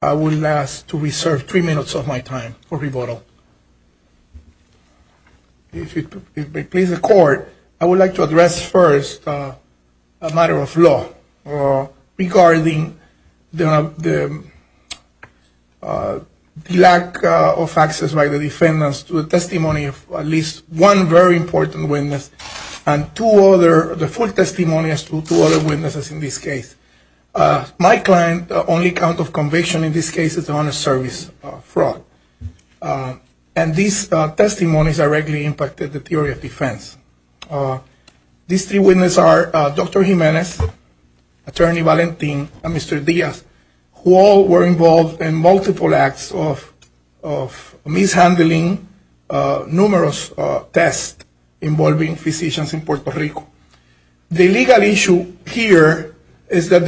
I will ask to reserve three minutes of my time for rebuttal. If it pleases the court, I would like to address first a matter of law regarding the lack of access by the defendants to a testimony of at least one very important witness and two other, the full testimonies of two other witnesses in this case. My client only counts of conviction in this case as an honest service fraud. And these testimonies directly impacted the theory of defense. These three witnesses are Dr. Jimenez, Attorney Valentin, and Mr. Diaz, who all were involved in multiple acts of mishandling numerous tests involving physicians in Puerto Rico. The legal issue here is that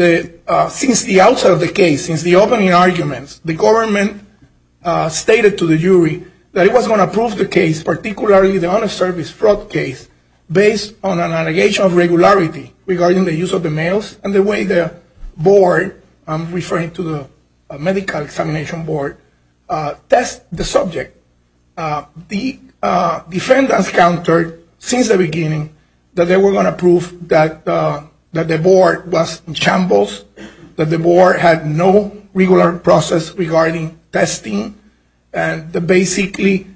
since the outset of the case, since the opening argument, the government stated to the jury that it was going to prove the case, particularly the honest service fraud case, based on an allegation of regularity regarding the use of the mails and the way the board, I'm referring to the medical examination board, test the subject. The they were going to prove that the board was in shambles, that the board had no regular process regarding testing, and that basically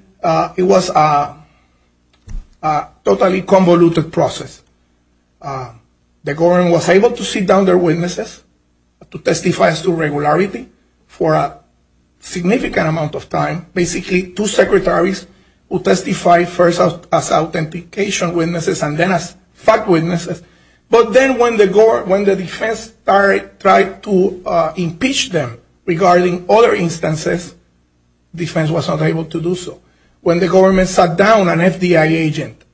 it was a totally convoluted process. The government was able to sit down their witnesses to testify as to regularity for a significant amount of time. Basically, two secretaries who testified first as authentication witnesses and then as fact witnesses. But then when the defense tried to impeach them regarding other instances, defense was not able to do so. When the government sat down an FBI agent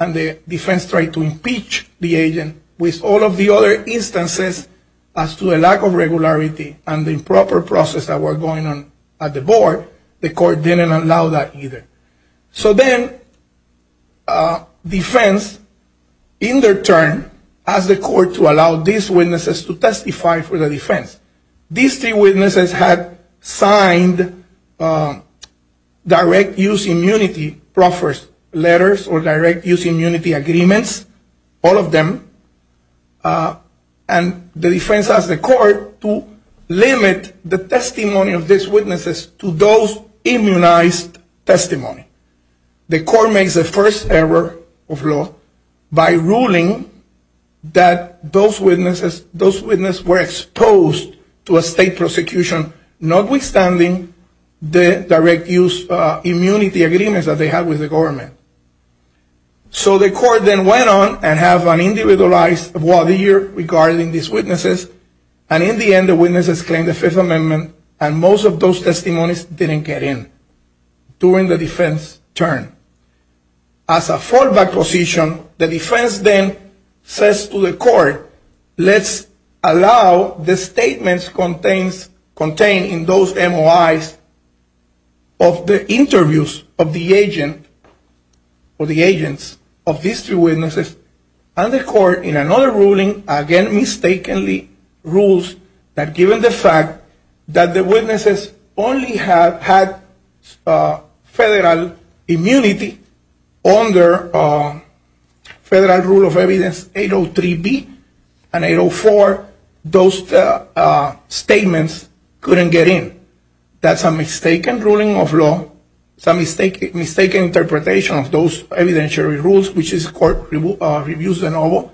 and the defense tried to impeach the agent with all of the other instances as to a lack of regularity and the improper process that was going on at the board, the court didn't allow that either. So then defense, in their turn, asked the court to allow these witnesses to testify for the defense. These three witnesses had signed direct use immunity proffers letters or direct use immunity agreements, all of them. And the defense asked the court to limit the testimony of these witnesses to those immunized testimony. The court made the first error of law by ruling that those witnesses were exposed to a state prosecution, notwithstanding the direct use immunity agreements that they had with the government. So the court then went on and had an individualized voir dire regarding these witnesses. And in the end, the witnesses claimed the Fifth Amendment and most of those testimonies didn't get in during the defense's turn. As a fallback position, the defense then says to the court, let's allow the statements contained in those MOIs of the interviews of the agent or the agents of these two witnesses and the court in another ruling again mistakenly rules that given the fact that the witnesses only had federal immunity under federal rule of evidence 803B and 804, those statements couldn't get in. That's a mistaken ruling of law, some mistaken interpretation of those evidentiary rules, which is court reviews the novel.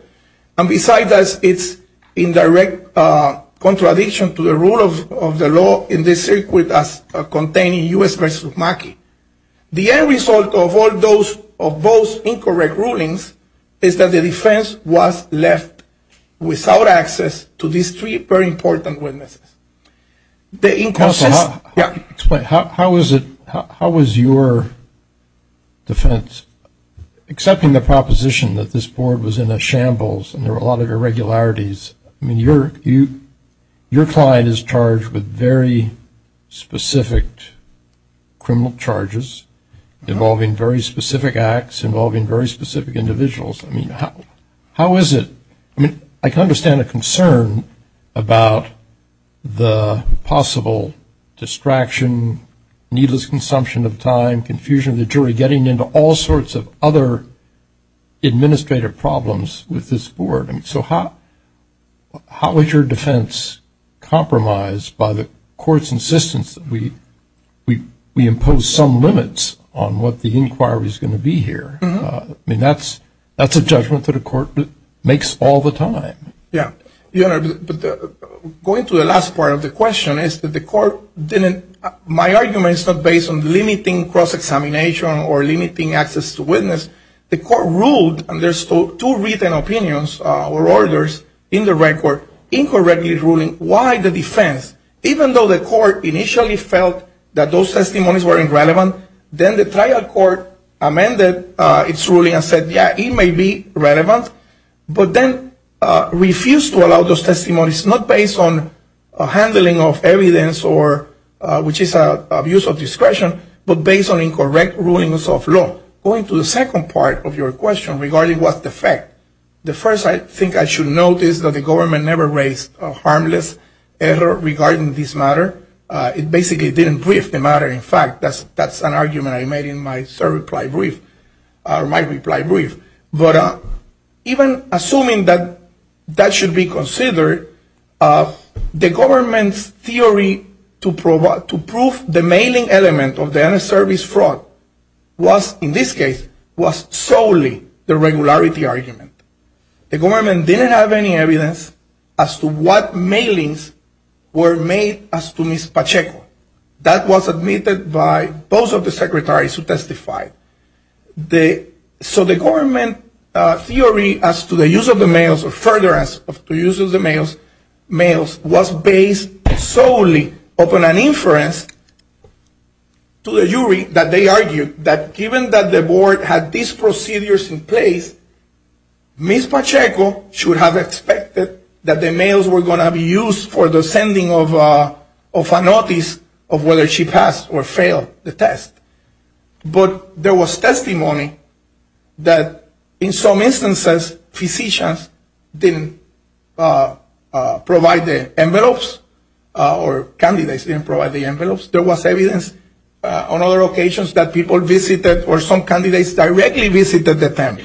And besides that, it's in direct contradiction to the rule of the law in the circuit as contained in U.S. v. Maki. The end result of all those incorrect rulings is that the defense was left without access to these three very important witnesses. How was your defense, accepting the proposition that this board was in a shambles and there were a lot of irregularities, I mean, your client is charged with very specific criminal charges involving very specific acts, involving very specific individuals. I mean, how is it, I mean, I understand a concern about the possible distraction, needless consumption of time, confusion of the jury, getting into all that. How is your defense compromised by the court's insistence that we impose some limits on what the inquiry is going to be here? I mean, that's a judgment that a court makes all the time. Yeah. Going to the last part of the question is that the court didn't, my argument is not based on limiting cross-examination or limiting access to witness. The court ruled, and there's two opinions or orders in the record, incorrectly ruling why the defense, even though the court initially felt that those testimonies were irrelevant, then the trial court amended its ruling and said, yeah, it may be relevant, but then refused to allow those testimonies, not based on handling of evidence or, which is abuse of discretion, but based on incorrect rulings of question regarding what's the fact. The first thing I should note is that the government never raised a harmless error regarding this matter. It basically didn't brief the matter. In fact, that's an argument I made in my reply brief. But even assuming that that should be considered, the government's theory to prove the mailing element of the unserviced fraud was, in this case, solely the regularity argument. The government didn't have any evidence as to what mailings were made as to Ms. Pacheco. That was admitted by both of the secretaries who testified. So the government theory as to the use of the mails or furtherance of the use of the mails was based solely upon an inference to the jury that they argued that given that the board had these procedures in place, Ms. Pacheco should have expected that the mails were going to be used for the sending of a notice of whether she passed or failed the test. But there was testimony that in some instances, physicians didn't provide the envelopes or candidates didn't provide the envelopes. There was evidence on other occasions that people visited or some candidates directly visited the temps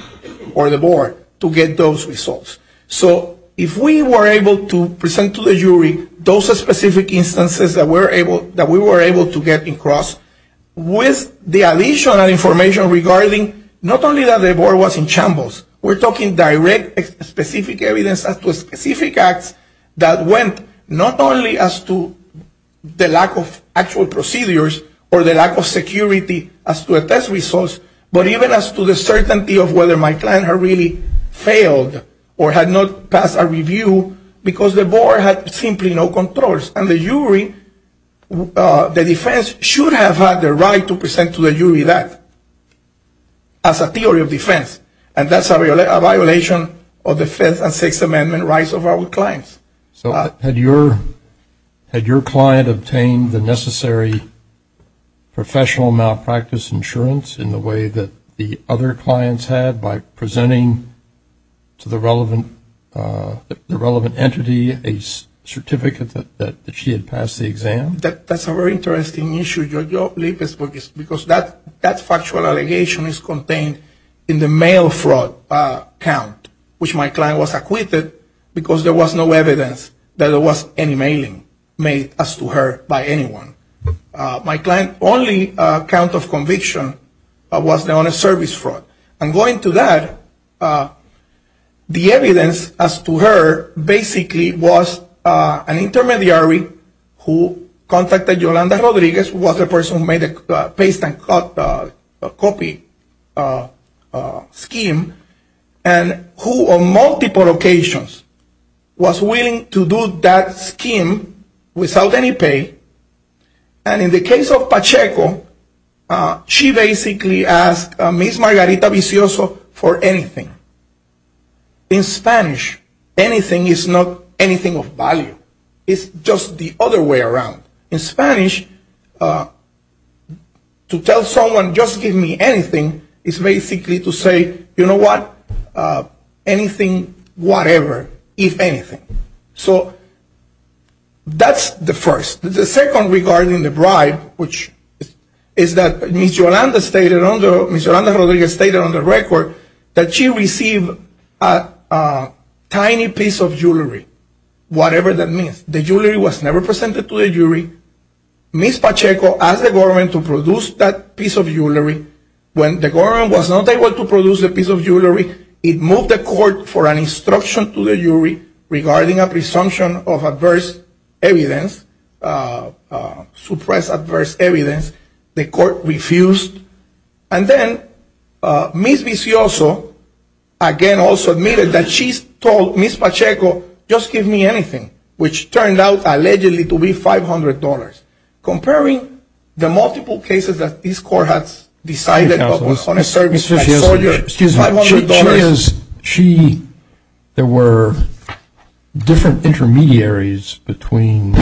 or the board to get those results. So if we were able to present to the jury those specific instances that we were able to get across, with the additional information regarding not only that the board was in shambles, we're talking direct specific evidence as to specific acts that went not only as to the lack of actual procedures or the lack of security as to the test results, but even as to the certainty of whether my client had really failed or had not passed a review because the board had simply no controls. And the jury, the defense should have had the right to present to the jury that as a theory of defense, and that's a violation of the Fifth and Sixth Amendment rights of our clients. So had your client obtained the necessary professional malpractice insurance in the way that the other clients had by presenting to the relevant entity a certificate that she had passed the exam? That's a very interesting issue, because that factual allegation is contained in the mail fraud count, which my client was acquitted because there was no evidence that there was any mailing made as to her by anyone. My client's only count of conviction was the honest service fraud. And going to that, the evidence as to her basically was an intermediary who contacted Yolanda Rodriguez, who was the person who made the paste and cut copy scheme, and who on multiple occasions was willing to do that scheme without any pay. And in the case of Pacheco, she basically asked Ms. Margarita Vicioso for anything. In Spanish, anything is not anything of value. It's just the other way around. In Spanish, to tell someone, just give me anything, is basically to say, you know what, anything, whatever, if anything. So that's the first. The second regarding the bribe, which is that Ms. Yolanda Rodriguez stated on the record that she received a tiny piece of jewelry, whatever that means. The jewelry was never presented to the jury. Ms. Pacheco asked the government to produce that piece of jewelry. When the government was not able to produce a piece of jewelry, it moved the court for an instruction to the jury regarding a presumption of adverse evidence, suppressed adverse evidence. The court refused. And then Ms. Vicioso, again, also admitted that she told Ms. Pacheco, just give me anything, which turned out allegedly to be $500. Comparing the multiple cases that this court has decided upon, I told you, $500. She, there were different intermediaries between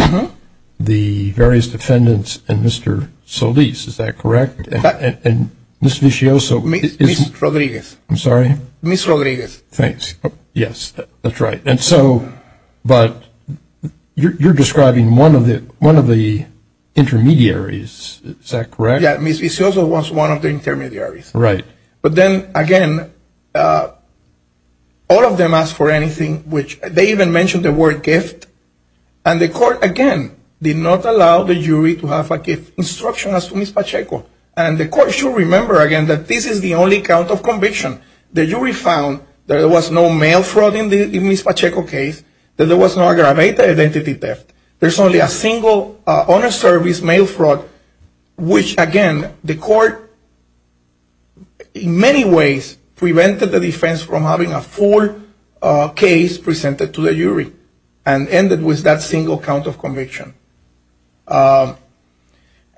the various defendants and Mr. Solis, is that correct? And Ms. Vicioso. Ms. Rodriguez. I'm sorry? Ms. Rodriguez. Thanks. Yes, that's right. And so, but you're describing one of the, one of the intermediaries, is that correct? Yeah, Ms. Vicioso was one of the intermediaries. All of them asked for anything, which they even mentioned the word gift. And the court, again, did not allow the jury to have a gift instruction as to Ms. Pacheco. And the court should remember, again, that this is the only count of conviction. The jury found that there was no mail fraud in Ms. Pacheco's case, that there was no aggravated identity theft. There's only a single honest service mail fraud, which, again, the court in many ways prevented the defense from having a full case presented to the jury, and ended with that single count of conviction.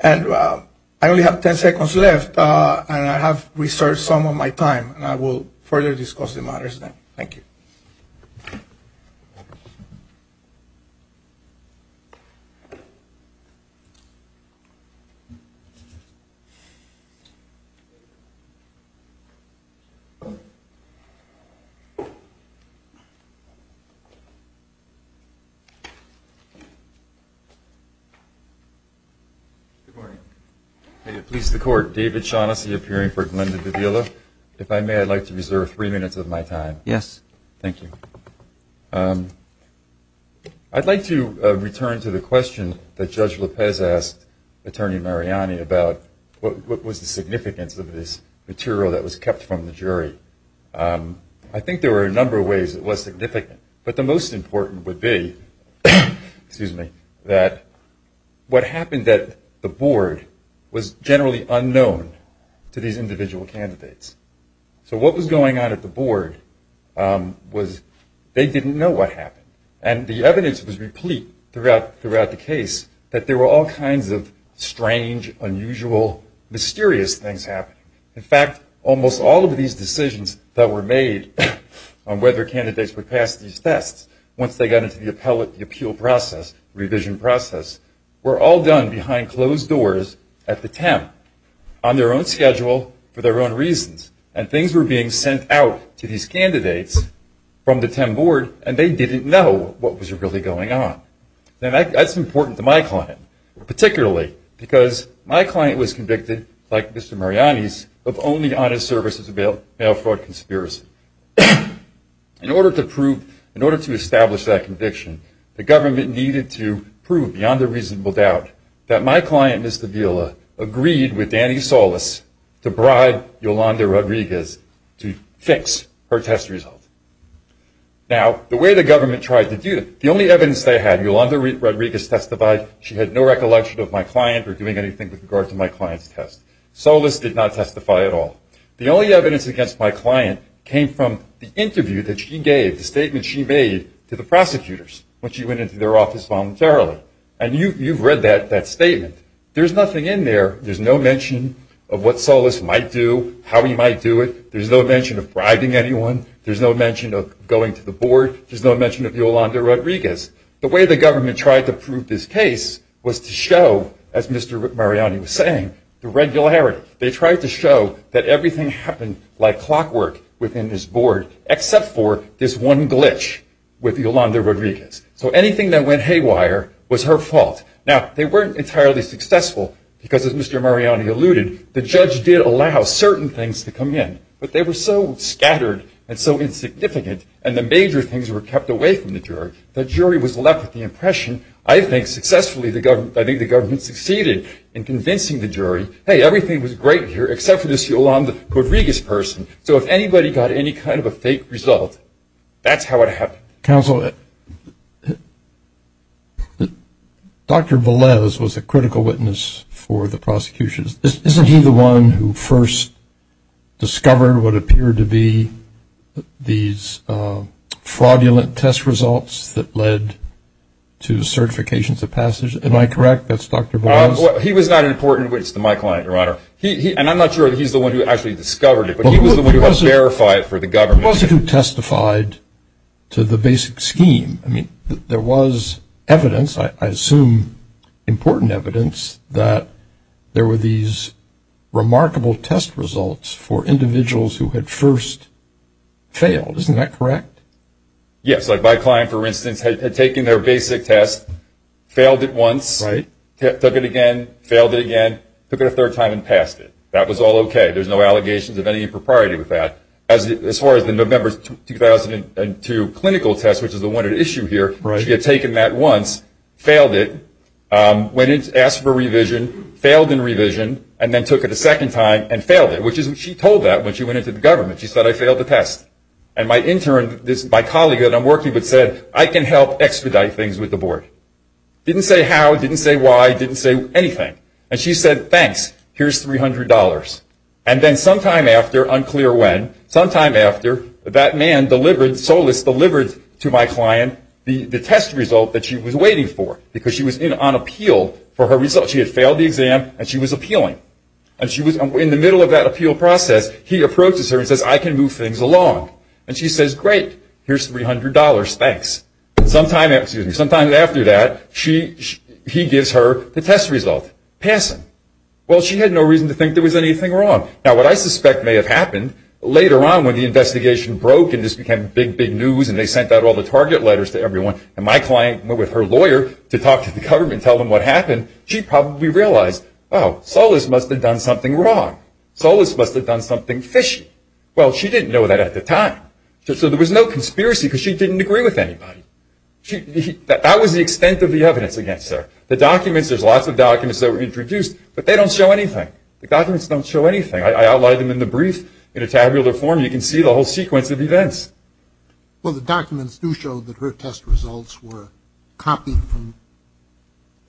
And I only have 10 seconds left, and I have reserved some of my time, and I will further discuss the matters then. Thank you. Good morning. David, please, the court. David Shaughnessy, appearing for Glenda Gavillo. If I may, I'd like to reserve three minutes of my time. Yes. Thank you. I'd like to return to the questions that Judge Lopez asked Attorney Mariani about what was the significance of this material that was kept from the jury. I think there were a number of ways it was significant, but the most important would be, that what happened at the board was generally unknown to these individual candidates. So what was going on at the board was they didn't know what happened. And the evidence was replete throughout the case that there were all kinds of strange, unusual, mysterious things happening. In fact, almost all of these decisions that were made on whether candidates would pass these tests, once they got into the appeal process, revision process, were all done behind closed doors at the temp, on their own schedule, for their own reasons. And things were being sent out to these candidates from the temp board, and they didn't know what was really going on. And that's important to my client, particularly because my client was convicted, like Mr. Rodriguez, of fraud conspiracy. In order to prove, in order to establish that conviction, the government needed to prove, beyond a reasonable doubt, that my client, Mr. Vila, agreed with Danny Solis to bribe Yolanda Rodriguez to fix her test result. Now, the way the government tried to do it, the only evidence they had, Yolanda Rodriguez testified she had no recollection of my client or doing anything with regard to my client's test. Solis did not testify at all. The only evidence against my client came from the interview that she gave, the statement she made to the prosecutors when she went into their office voluntarily. And you've read that statement. There's nothing in there. There's no mention of what Solis might do, how he might do it. There's no mention of bribing anyone. There's no mention of going to the board. There's no mention of Yolanda Rodriguez. The way the government tried to prove this case was to the regularity. They tried to show that everything happened like clockwork within this board, except for this one glitch with Yolanda Rodriguez. So anything that went haywire was her fault. Now, they weren't entirely successful because, as Mr. Mariani alluded, the judge did allow certain things to come in. But they were so scattered and so insignificant, and the major things were kept away from the jury, the jury was left with the impression, I think, successfully, I think the government succeeded in convincing the jury, hey, everything was great here except for this Yolanda Rodriguez person. So if anybody got any kind of a fake result, that's how it happened. Counselor, Dr. Velez was a critical witness for the prosecution. Isn't he the one who first discovered what appeared to be these fraudulent test results that led to certifications of passage? Am I correct? That's Dr. Velez? He was that important witness to my client, Your Honor. And I'm not sure he's the one who actually discovered it, but he was the one who verified it for the government. He was the one who testified to the basic scheme. I mean, there was evidence, I assume important evidence, that there were these remarkable test results for individuals who had first failed. Isn't that correct? Yes. Like my client, for instance, had taken their basic test, failed it once, took it again, failed it again, took it a third time and passed it. That was all okay. There's no allegations of any propriety with that. As far as the November 2002 clinical test, which is the one at issue here, he had taken that once, failed it, went in, asked for revision, failed in revision, and then took it a second time and failed it, she told that when she went into the government. She said, I failed the test. And my intern, my colleague that I'm working with said, I can help extradite things with the board. Didn't say how, didn't say why, didn't say anything. And she said, thanks, here's $300. And then sometime after, unclear when, sometime after, that man delivered, Solis delivered to my client the test result that she was waiting for, because she was on appeal for her results. She had failed the exam, and she was appealing. And she was in the middle of that appeal process, he approaches her and says, I can move things along. And she says, great, here's $300, thanks. Sometime, excuse me, sometime after that, she, he gives her the test result, pass it. Well, she had no reason to think there was anything wrong. Now, what I suspect may have happened later on when the investigation broke and this became big, big news, and they sent out all the target letters to everyone, and my client went with her lawyer to talk to the government, and tell them what happened, she probably realized, oh, Solis must have done something wrong. Solis must have done something fishy. Well, she didn't know that at the time. So, there was no conspiracy, because she didn't agree with anybody. That was the extent of the evidence against her. The documents, there's lots of documents that were introduced, but they don't show anything. The documents don't show anything. I outlined them in the brief in a tabular form. You can see the whole sequence of events. Well, the documents do show that her test results were copied from,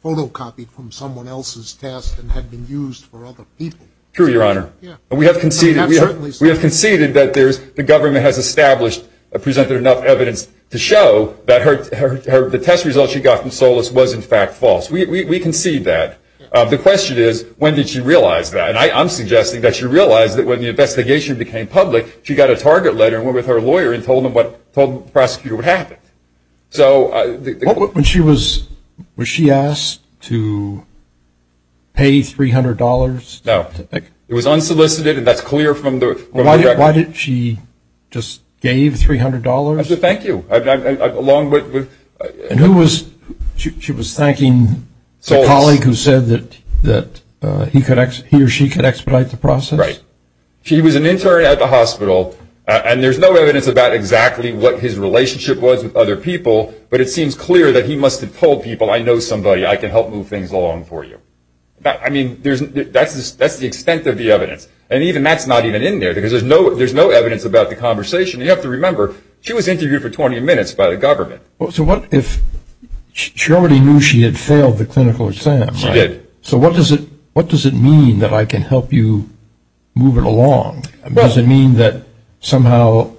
photocopied from someone else's test and had been used for other people. True, your honor. We have conceded, we have conceded that there's, the government has established, presented enough evidence to show that her, the test result she got from Solis was in fact false. We concede that. The question is, when did she realize that? And I'm suggesting that she realized that when the investigation became public, she got a target letter and went to her lawyer and told them what, told the prosecutor what happened. So, the court... When she was, was she asked to pay $300? No. It was unsolicited and that's clear from the... Why didn't she just gave $300? To thank you. I've, I've, I've, along with... And who was, she was thanking... Solis. ...a colleague who said that, that he could expedite, he or she could expedite the process? Right. He was an intern at the hospital and there's no evidence about exactly what his relationship was with other people, but it seems clear that he must have told people, I know somebody, I can help move things along for you. Now, I mean, there's, that's, that's the extent of the evidence. And even that's not even in there because there's no, there's no evidence about the conversation. You have to remember, she was interviewed for 20 minutes by the government. Well, so what if she already knew she had failed the clinical exam? She did. So what does it, what does it mean that I can help you move it along? Does it mean that somehow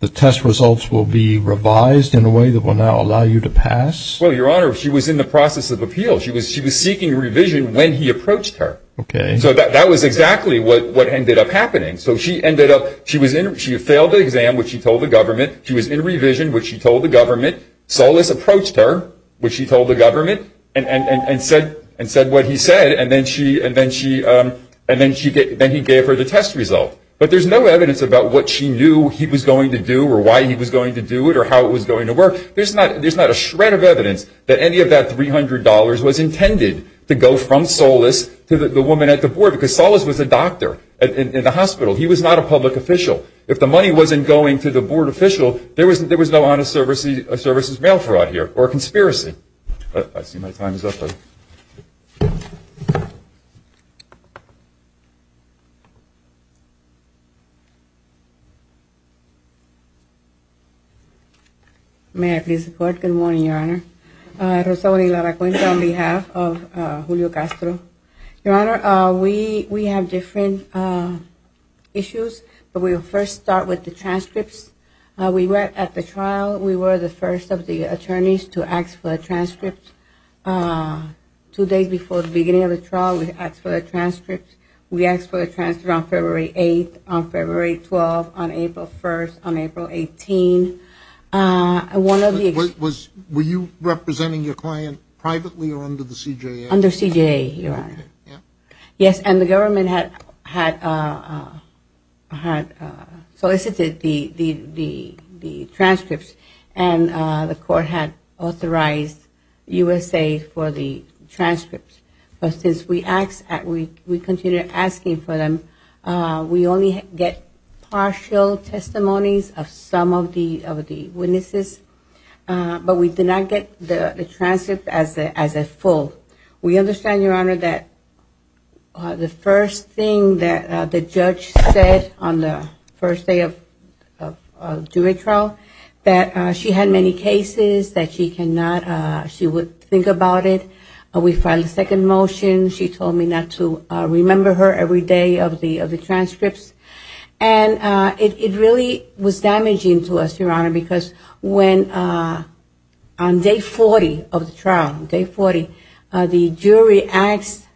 the test results will be revised in a way that will now allow you to pass? Well, Your Honor, she was in the process of appeal. She was, she was seeking revision when he approached her. Okay. So that, that was exactly what, what ended up happening. So she ended up, she was in, she failed the exam, which she told the government. She was in revision, which she told the government. Solis approached her, which she told the government, and said, and said what he said. And then she, and then she, and then she, then he gave her the test result. But there's no evidence about what she knew he was going to do or why he was going to do it or how it was going to work. There's not, there's not a shred of evidence that any of that $300 was intended to go from Solis to the woman at the board, because Solis was a doctor in the hospital. He was not a public official. If the money wasn't going to the mail fraud here, or conspiracy. I see my time is up. May I please report? Good morning, Your Honor. Rosario de la Cuenca on behalf of Julio Castro. Your Honor, we, we have different issues, but we'll first start with the transcripts. We were at the trial. We were the first of the attorneys to ask for a transcript. Two days before the beginning of the trial, we asked for a transcript. We asked for a transcript on February 8th, on February 12th, on April 1st, on April 18th. One of the- Was, were you representing your client privately or under the CJA? Under CJA, Your Honor. Yes, and the government had, had, had solicited the, the, the, the transcripts, and the court had authorized USA for the transcripts. But since we asked, we, we continued asking for them, we only get partial testimonies of some of the, of the witnesses, but we did not get the, the transcripts as the, as a full. We understand, Your Honor, that the first thing that the judge said on the first day of, of, of jury trial, that she had many cases that she cannot, she would think about it. We filed a second motion. She told me not to remember her every day of the, of the transcripts. And it, it really was damaging to us, Your Honor, because when, on day 40 of the trial, day 40, the jury asked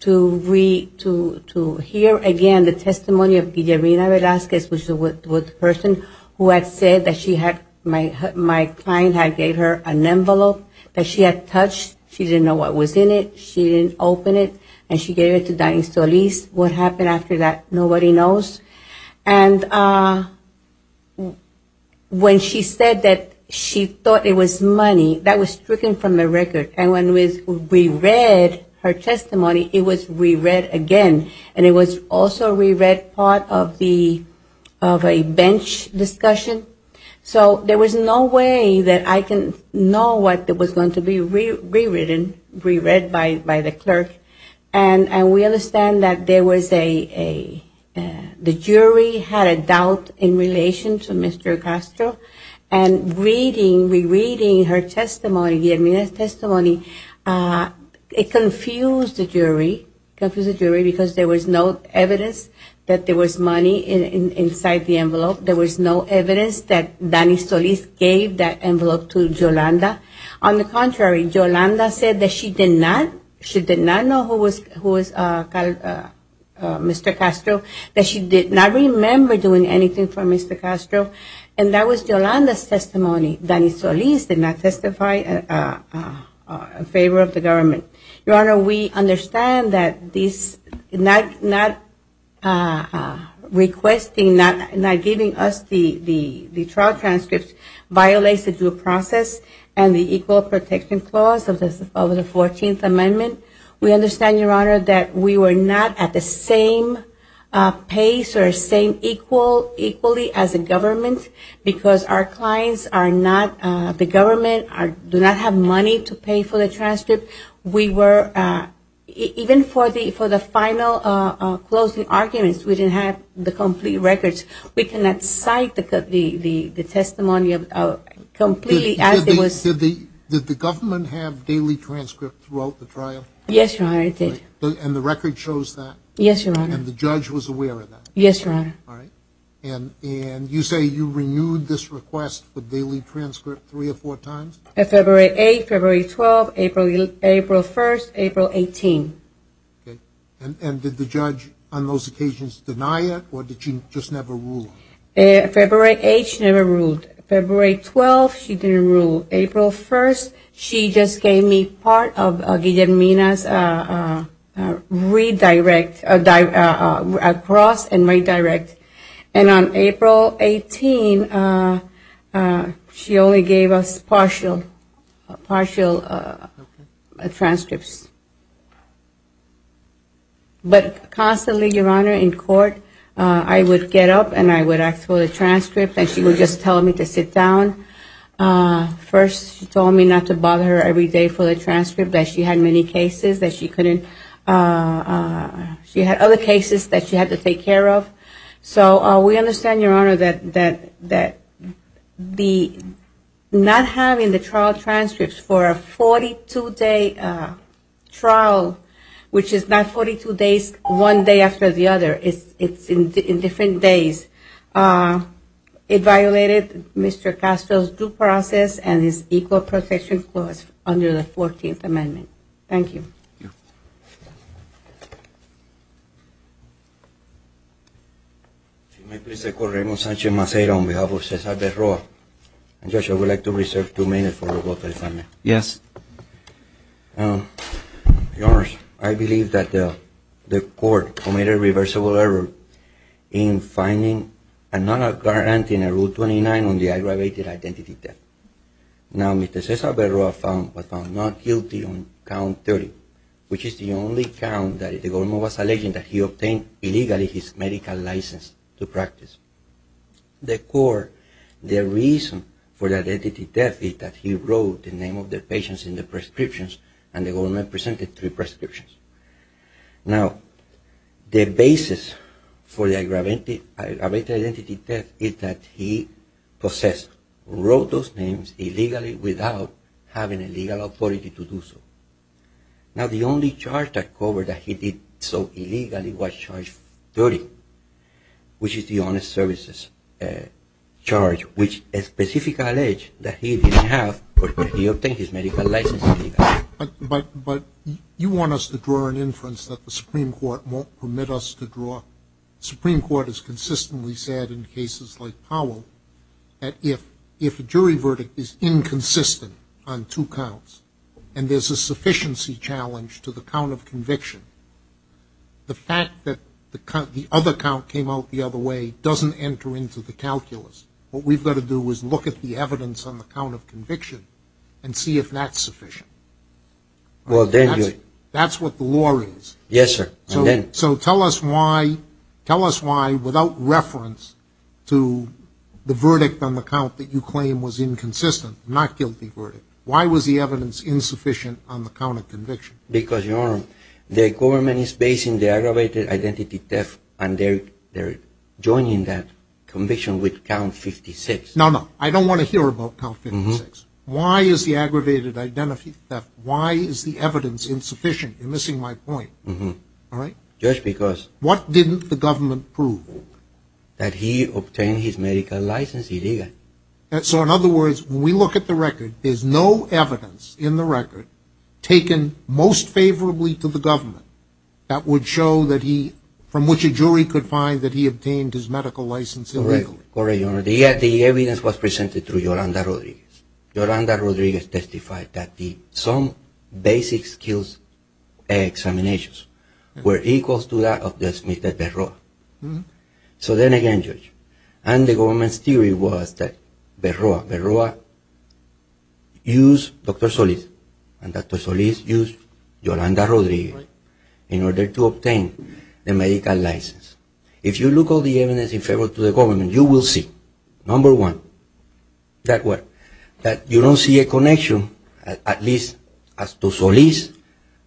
to re-, to, to hear again the testimony of Irina Velazquez, which was the person who had said that she had, my, my client had gave her an envelope that she had touched, she didn't know what was in it, she didn't open it, and she gave it to Danny Solis. What happened after that, nobody knows. And when she said that she thought it was money, that was stricken from the record. And when we re-read her testimony, it was re-read again. And it was also re-read part of the, of a bench discussion. So there was no way that I can know what was going to be re-, re-written, re-read by, by the clerk. And, and we understand that there was a, a, the jury had a doubt in relation to Mr. Castro. And reading, re-reading her testimony, Irina's testimony, it confused the jury, confused the jury, because there was no evidence that there was money in, in, inside the envelope. There was no evidence that Danny Solis gave that envelope to Yolanda. On the contrary, Yolanda said that she did not, she did not know who was, who was Mr. Castro, that she did not remember doing anything for Mr. Castro. And that was Yolanda's testimony. Danny Solis did not testify in favor of the government. Your Honor, we understand that this not, not requesting, not giving us the, the, the trial transcripts violates the due process and the Equal Protection Clause of the, of the Fourteenth Amendment. We understand, Your Honor, that we were not at the same pace or same equal, equally as the government, because our clients are not, the government are, do not have money to pay for the transcript. We were, even for the, for the records, we cannot cite the, the, the testimony of, completely as it was. Did the, did the government have daily transcripts throughout the trial? Yes, Your Honor, it did. And the record shows that? Yes, Your Honor. And the judge was aware of that? Yes, Your Honor. All right. And, and you say you renewed this request for daily transcript three or four times? February 8th, February 12th, April, April 1st, April 18th. Okay. And, and did the judge on those occasions deny it, or did she just never rule? February 8th, she never ruled. February 12th, she didn't rule. April 1st, she just gave me part of Villanmina's redirect, across and redirect. And on April 18th, she only gave us partial, partial transcripts. But constantly, Your Honor, in court, I would get up, and I would ask for the transcripts, and she would just tell me to sit down. First, she told me not to bother her every day for the transcript, that she had many cases that she couldn't, she had other cases that she had to take care of. So, we understand, Your Honor, that, that, that the, not having the trial transcripts for a 42-day trial, which is not 42 days, one day after the other, it's, it's in different days, it violated Mr. Castro's due process and his equal protection clause under the 14th Amendment. Thank you. Your Honor, I believe that the, the court committed a reversible error in finding another guarantee in Rule 29 on the aggravated identity theft. Now, Mr. Cesar Verroa was found not guilty on count 30, which is the only count that the government was alleging that he obtained illegally his medical license to practice. The court, the reason for the identity theft is that he wrote the name of the patients in the prescriptions, and the government presented three prescriptions. Now, the basis for the without having a legal authority to do so. Now, the only charge that covered that he did so illegally was charge 30, which is the Honest Services charge, which a specific allege that he didn't have, but he obtained his medical license illegally. But, but, but you want us to draw an inference that the Supreme Court won't permit us to draw. The Supreme Court has consistently said in cases like Powell, that if, if a jury verdict is inconsistent on two counts, and there's a sufficiency challenge to the count of conviction, the fact that the count, the other count came out the other way doesn't enter into the calculus. What we've got to do is look at the evidence on the count of conviction and see if that's sufficient. That's what the law is. Yes, sir. So tell us why, tell us why, without reference to the verdict on the count that you claim was inconsistent, not guilty verdict. Why was the evidence insufficient on the count of conviction? Because your Honor, the government is basing the aggravated identity theft, and they're, they're joining that conviction with count 56. No, no, I don't want to hear about count 56. Why is the aggravated identity theft, why is the evidence insufficient? You're missing my point. All right. Just because. What didn't the government prove? That he obtained his medical license, he didn't. So in other words, when we look at the record, there's no evidence in the record taken most favorably to the government that would show that he, from which a jury could find that he obtained his medical license illegally. Correct, Your Honor. The evidence was presented through Yolanda Rodriguez. Yolanda Rodriguez testified that the, some basic skills examinations were equal to that of Judge Smith at Verroa. So then again, Judge, and the government's theory was that Verroa, Verroa used Dr. Solis, and Dr. Solis used Yolanda Rodriguez in order to obtain the medical license. If you look at all the evidence in favor to the government, you will see, number one, that what, that you don't see a connection at least as to Solis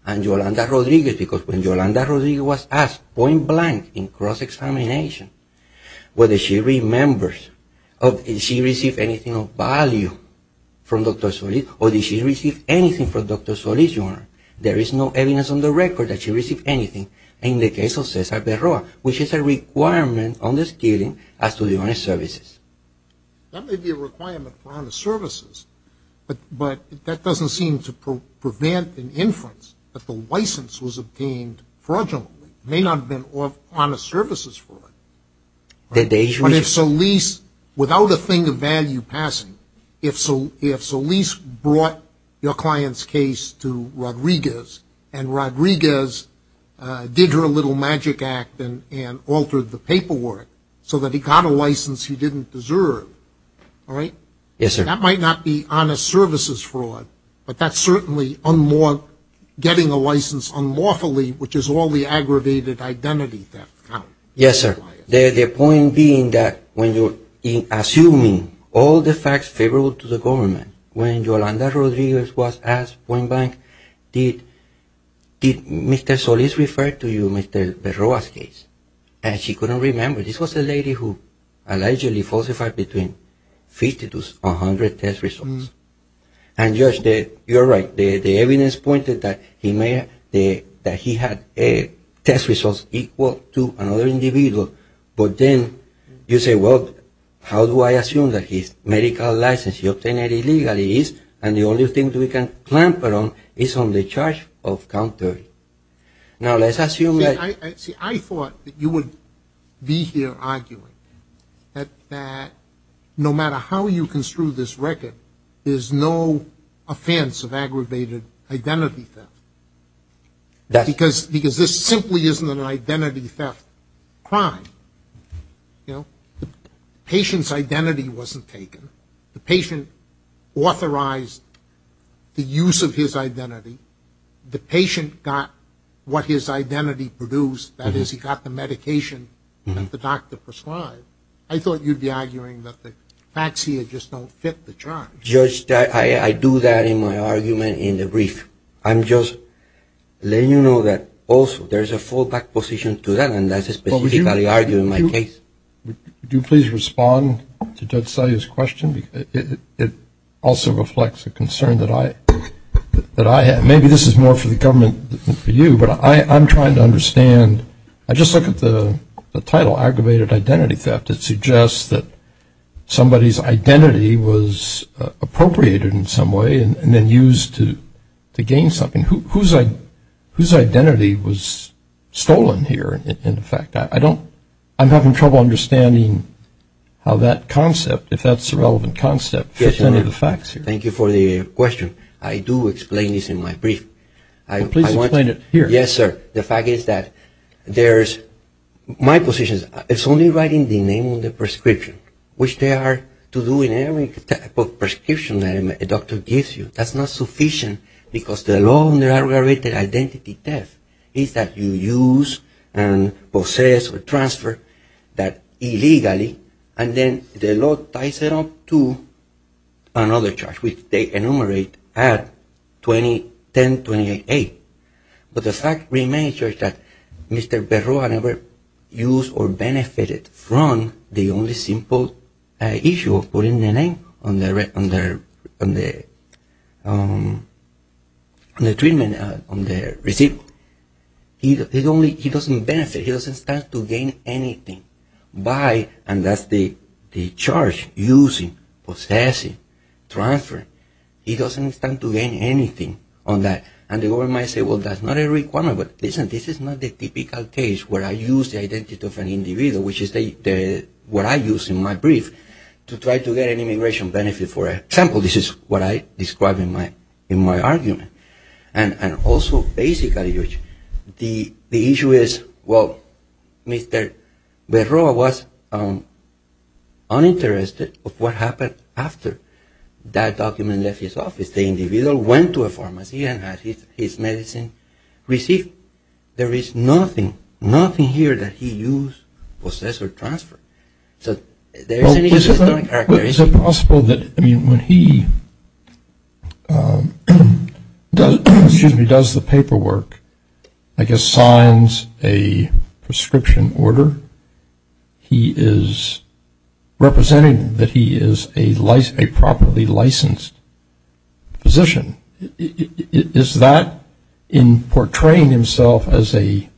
and Yolanda Rodriguez, because when Yolanda Rodriguez was asked point blank in cross-examination, whether she remembers of, did she receive anything of value from Dr. Solis, or did she receive anything from Dr. Solis, Your Honor, there is no evidence on the record that she received anything in the case of Cesar Verroa, which is a requirement on the stealing as to the honest services. That may be a requirement for honest services, but that doesn't seem to prevent an inference that the license was obtained fraudulently. It may not have been honest services for it. But if Solis, without a thing of value passing, if Solis brought your client's case to Rodriguez, and Rodriguez did her little magic act and altered the paperwork so that he got a license he didn't deserve, all right? Yes, sir. That might not be honest services fraud, but that's certainly getting a license unlawfully, which is all the aggravated identity theft. Yes, sir. The point being that when you're assuming all the facts favorable to the government, when Yolanda Rodriguez was asked point blank, did Mr. Solis refer to you Mr. Verroa's case? And she couldn't remember. This was the lady who falsified between 50 to 100 test results. And you're right. The evidence pointed that he had test results equal to another individual, but then you say, well, how do I assume that his medical license, he obtained it illegally, and the only thing we can clamp it on is on the charge of countering. Now, let's assume that... See, I thought that you would be here arguing. That no matter how you construe this record, there's no offense of aggravated identity theft. Because this simply isn't an identity theft crime. You know, patient's identity wasn't taken. The patient authorized the use of his identity. The patient got what his identity produced, that is, he got the medication that the doctor prescribed. I thought you'd be arguing that the facts here just don't fit the charge. Judge, I do that in my argument in the brief. I'm just letting you know that also, there's a fallback position to that, and that's a specific value argument in my case. Well, would you please respond to Judge Solis' question? It also reflects a concern that I have. Maybe this is more for the government than for you, but I'm trying to understand... I just looked at the title, aggravated identity theft. It suggests that somebody's identity was appropriated in some way and then used to gain something. Whose identity was stolen here, in fact? I'm having trouble understanding how that concept, if that's a relevant concept, fits into the facts. Thank you for the question. I do explain this in my brief. Please explain it here. Yes, sir. The fact is that there's... My position is, it's only writing the name of the prescription, which they are to do in any type of prescription that a doctor gives you. That's not sufficient because the law in the aggravated identity theft is that you use and possess or transfer that illegally, and then the law ties it up to another charge, which they enumerate at 1028. But the fact remains, Judge, that Mr. Berroa never used or benefited from the only simple issue of putting the name on the treatment, on the receipt. He doesn't benefit. He doesn't start to gain anything by... And that's the charge, using, possessing, transferring. He doesn't start to gain anything on that. And the government might say, well, that's not a requirement. But this is not the typical case where I use the identity of an individual, which is what I use in my brief, to try to get an immigration benefit. For example, this is what I described in my argument. And also, basically, the issue is, well, Mr. Berroa was uninterested of what happened after that document left his office. The individual went to a pharmacy and had his medicine received. There is nothing, nothing here that he used, possessed, or transferred. So, there's a... Well, is it possible that, I mean, when he does the paperwork, I guess, signs a prescription order, he is representing that he is a properly licensed physician. Is that, in portraying himself as a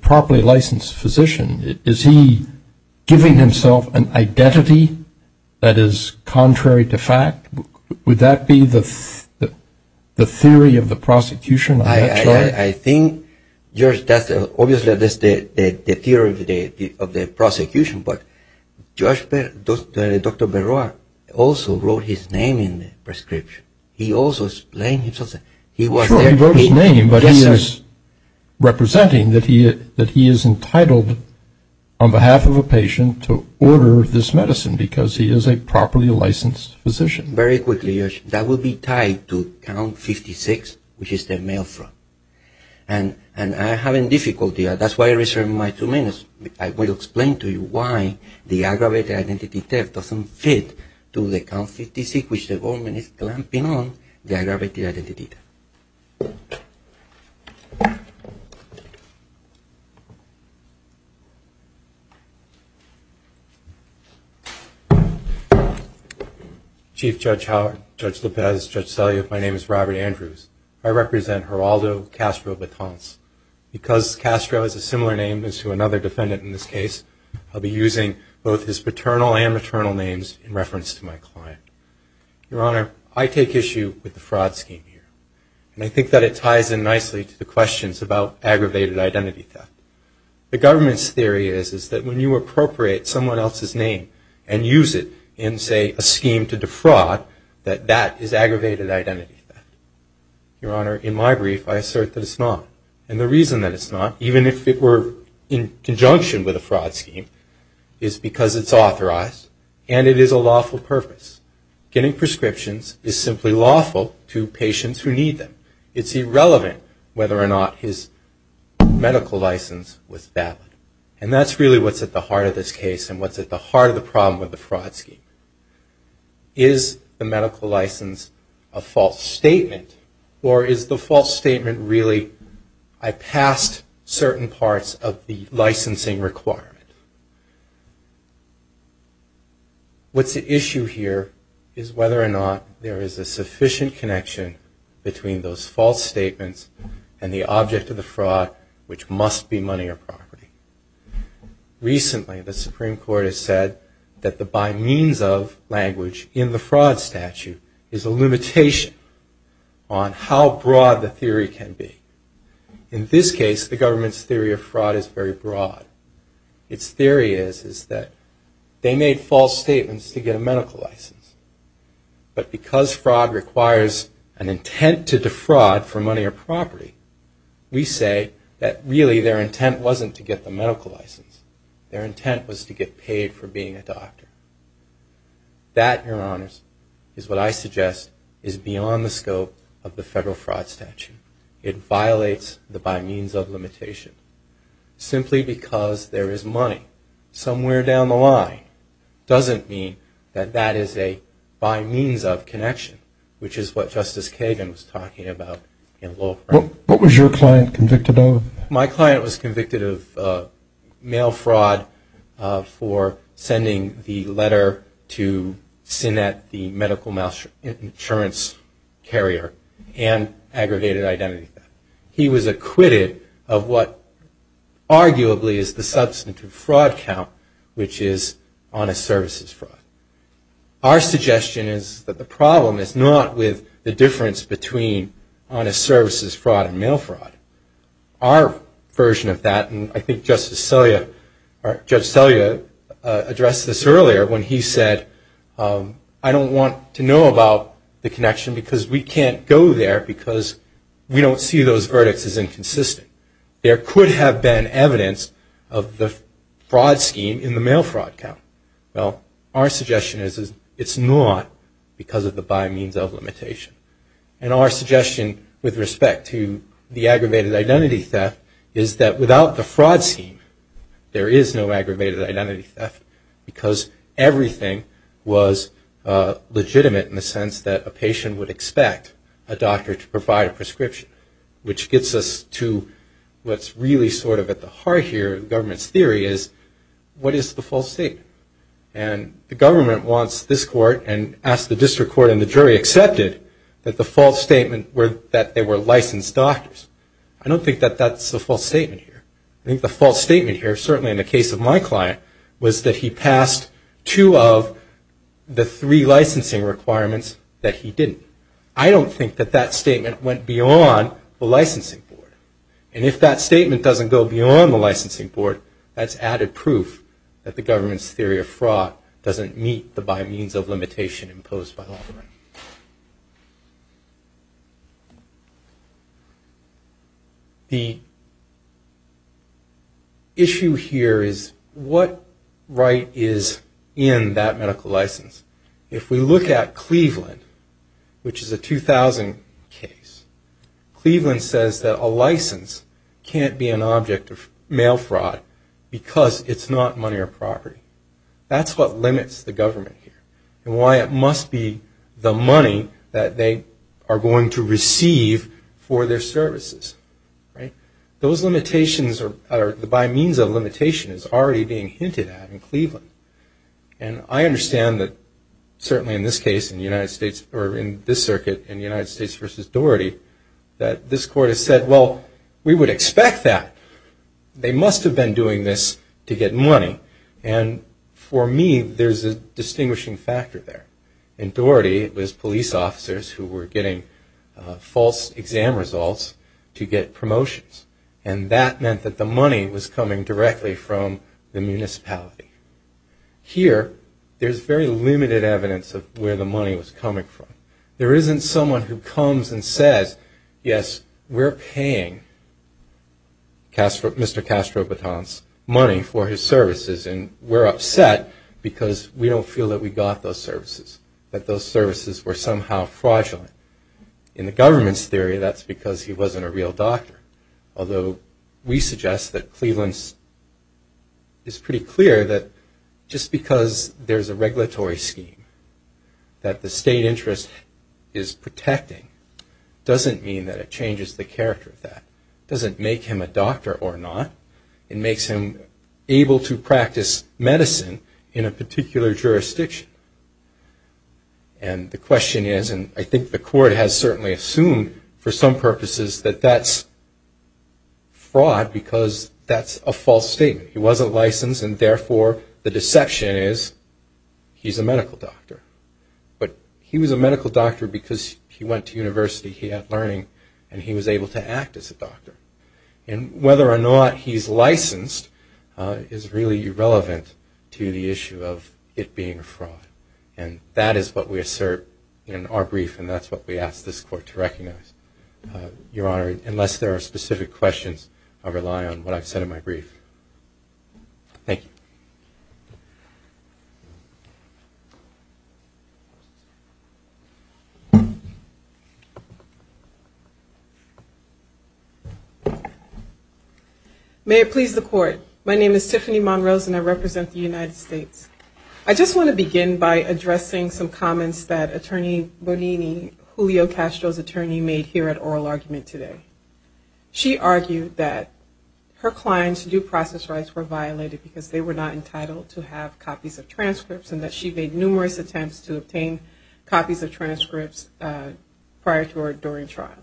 properly licensed physician, is he giving himself an identity that is contrary to fact? Would that be the theory of the prosecution? I think, George, that's obviously the theory of the prosecution, but Dr. Berroa also wrote his name in the prescription. He also explained himself that he wrote his name, but he is representing that he is entitled, on behalf of a patient, to order this medicine because he is a properly licensed physician. Very quickly, George, that would be tied to count 56, which is the mail front. And I'm having difficulty. That's why I reserve my two minutes. I will explain to you why the aggravated identity theft doesn't fit to the count 56, which the government is clamping on the aggravated identity theft. So, I'm going to turn it over to Dr. Berroa, who is going to give us a little bit more bit more detail on the fraud scheme. Chief Judge Howard, Judge DePez, Judge Selyoff, my name is Robert Andrews. I represent Geraldo Castro Batons. Because Castro is a similar name as to another defendant in this case, I'll be using both his paternal and maternal names in reference to my client. Your Honor, I take issue with the fraud scheme here, and I think that it ties in nicely to the questions about aggravated identity theft. The government's theory is that when you appropriate someone else's name and use it in, say, a scheme to defraud, that that is aggravated identity theft. Your Honor, in my brief, I assert that it's not. And the reason that it's not, even if it were in conjunction with the fraud scheme, is because it's authorized and it is a lawful purpose. Getting prescriptions is simply lawful to patients who need them. It's irrelevant whether or not his medical license was valid. And that's really what's at the heart of this case and what's at the heart of the problem with the fraud scheme. Is the medical license a false statement, or is the false statement really, I passed certain parts of the licensing requirement. What's at issue here is whether or not there is a sufficient connection between those false statements and the object of the fraud, which must be money or property. Recently, the Supreme Court has said that the by means of language in the fraud statute is a limitation on how broad the theory can be. In this case, the government's theory of fraud is very broad. Its theory is that they made false statements to get a medical license. But because fraud requires an intent to defraud for money or property, we say that really their intent wasn't to get the medical license. Their intent was to get paid for being a doctor. That, Your Honor, is what I suggest is beyond the scope of the federal fraud statute. It violates the by means of limitation. Simply because there is money somewhere down the line doesn't mean that that is a by means of connection, which is what Justice Kagan was talking about in Lowell. What was your client convicted of? My client was convicted of mail fraud for sending the letter to SINET, the medical insurance carrier, and aggravated identity theft. He was acquitted of what arguably is the substantive fraud count, which is honest services fraud. Our suggestion is that the problem is not with the difference between honest services fraud and mail fraud. Our version of that, and I think Judge Stelia addressed this earlier when he said, I don't want to know about the connection because we can't go there because we don't see those verdicts as inconsistent. There could have been evidence of the fraud scheme in the mail fraud count. Well, our suggestion is it's not because of the by means of limitation. Our suggestion with respect to the aggravated identity theft is that without the fraud scheme there is no aggravated identity theft because everything was legitimate in the sense that a patient would expect a doctor to provide a prescription, which gets us to what's really sort of at the heart here of the government's theory is what is the false statement? And the government wants this court and asked the district court and the jury accepted that the false statement were that they were licensed doctors. I don't think that that's a false statement here. I think the false statement here, certainly in the case of my client, was that he passed two of the three licensing requirements that he didn't. I don't think that that statement went beyond the licensing board. And if that statement doesn't go beyond the that the government's theory of fraud doesn't meet the by means of limitation imposed by law. The issue here is what right is in that medical license? If we look at Cleveland, which is a 2000 case, Cleveland says that a license can't be an object of mail fraud because it's not money or property. That's what limits the government here and why it must be the money that they are going to receive for their services. Those limitations are by means of limitation is already being hinted at in Cleveland. And I understand that certainly in this case in the United States or in this circuit in the United States versus Doherty that this doing this to get money. And for me, there's a distinguishing factor there. In Doherty, it was police officers who were getting false exam results to get promotions. And that meant that the money was coming directly from the municipality. Here, there's very limited evidence of where the money was coming from. There isn't someone who comes and says, yes, we're paying Mr. Castro-Baton's money for his services. And we're upset because we don't feel that we got those services, that those services were somehow fraudulent. In the government's theory, that's because he wasn't a real doctor. Although we suggest that Cleveland is pretty clear that just because there's a regulatory scheme that the state interest is protecting doesn't mean that it changes the character of that. It doesn't make him a doctor or not. It makes him able to practice medicine in a particular jurisdiction. And the question is, and I think the court has certainly assumed for some purposes that that's fraud because that's a false statement. He wasn't licensed and therefore the deception is he's a medical doctor. But he was a medical doctor because he went to university, he had learning, and he was able to act as a doctor. And whether or not he's licensed is really irrelevant to the issue of it being a fraud. And that is what we assert in our brief and that's what we ask this court to recognize. Your Honor, unless there are specific questions, I'll rely on what I said in my brief. Thank you. May it please the court. My name is Tiffany Monrose and I represent the United States. I just want to begin by addressing some comments that Attorney Bonini, Julio Castro's attorney, made here at Oral Argument today. She argued that her client's due process rights were violated because they were not entitled to have copies of transcripts and that she made numerous attempts to obtain copies of transcripts prior to or during trial.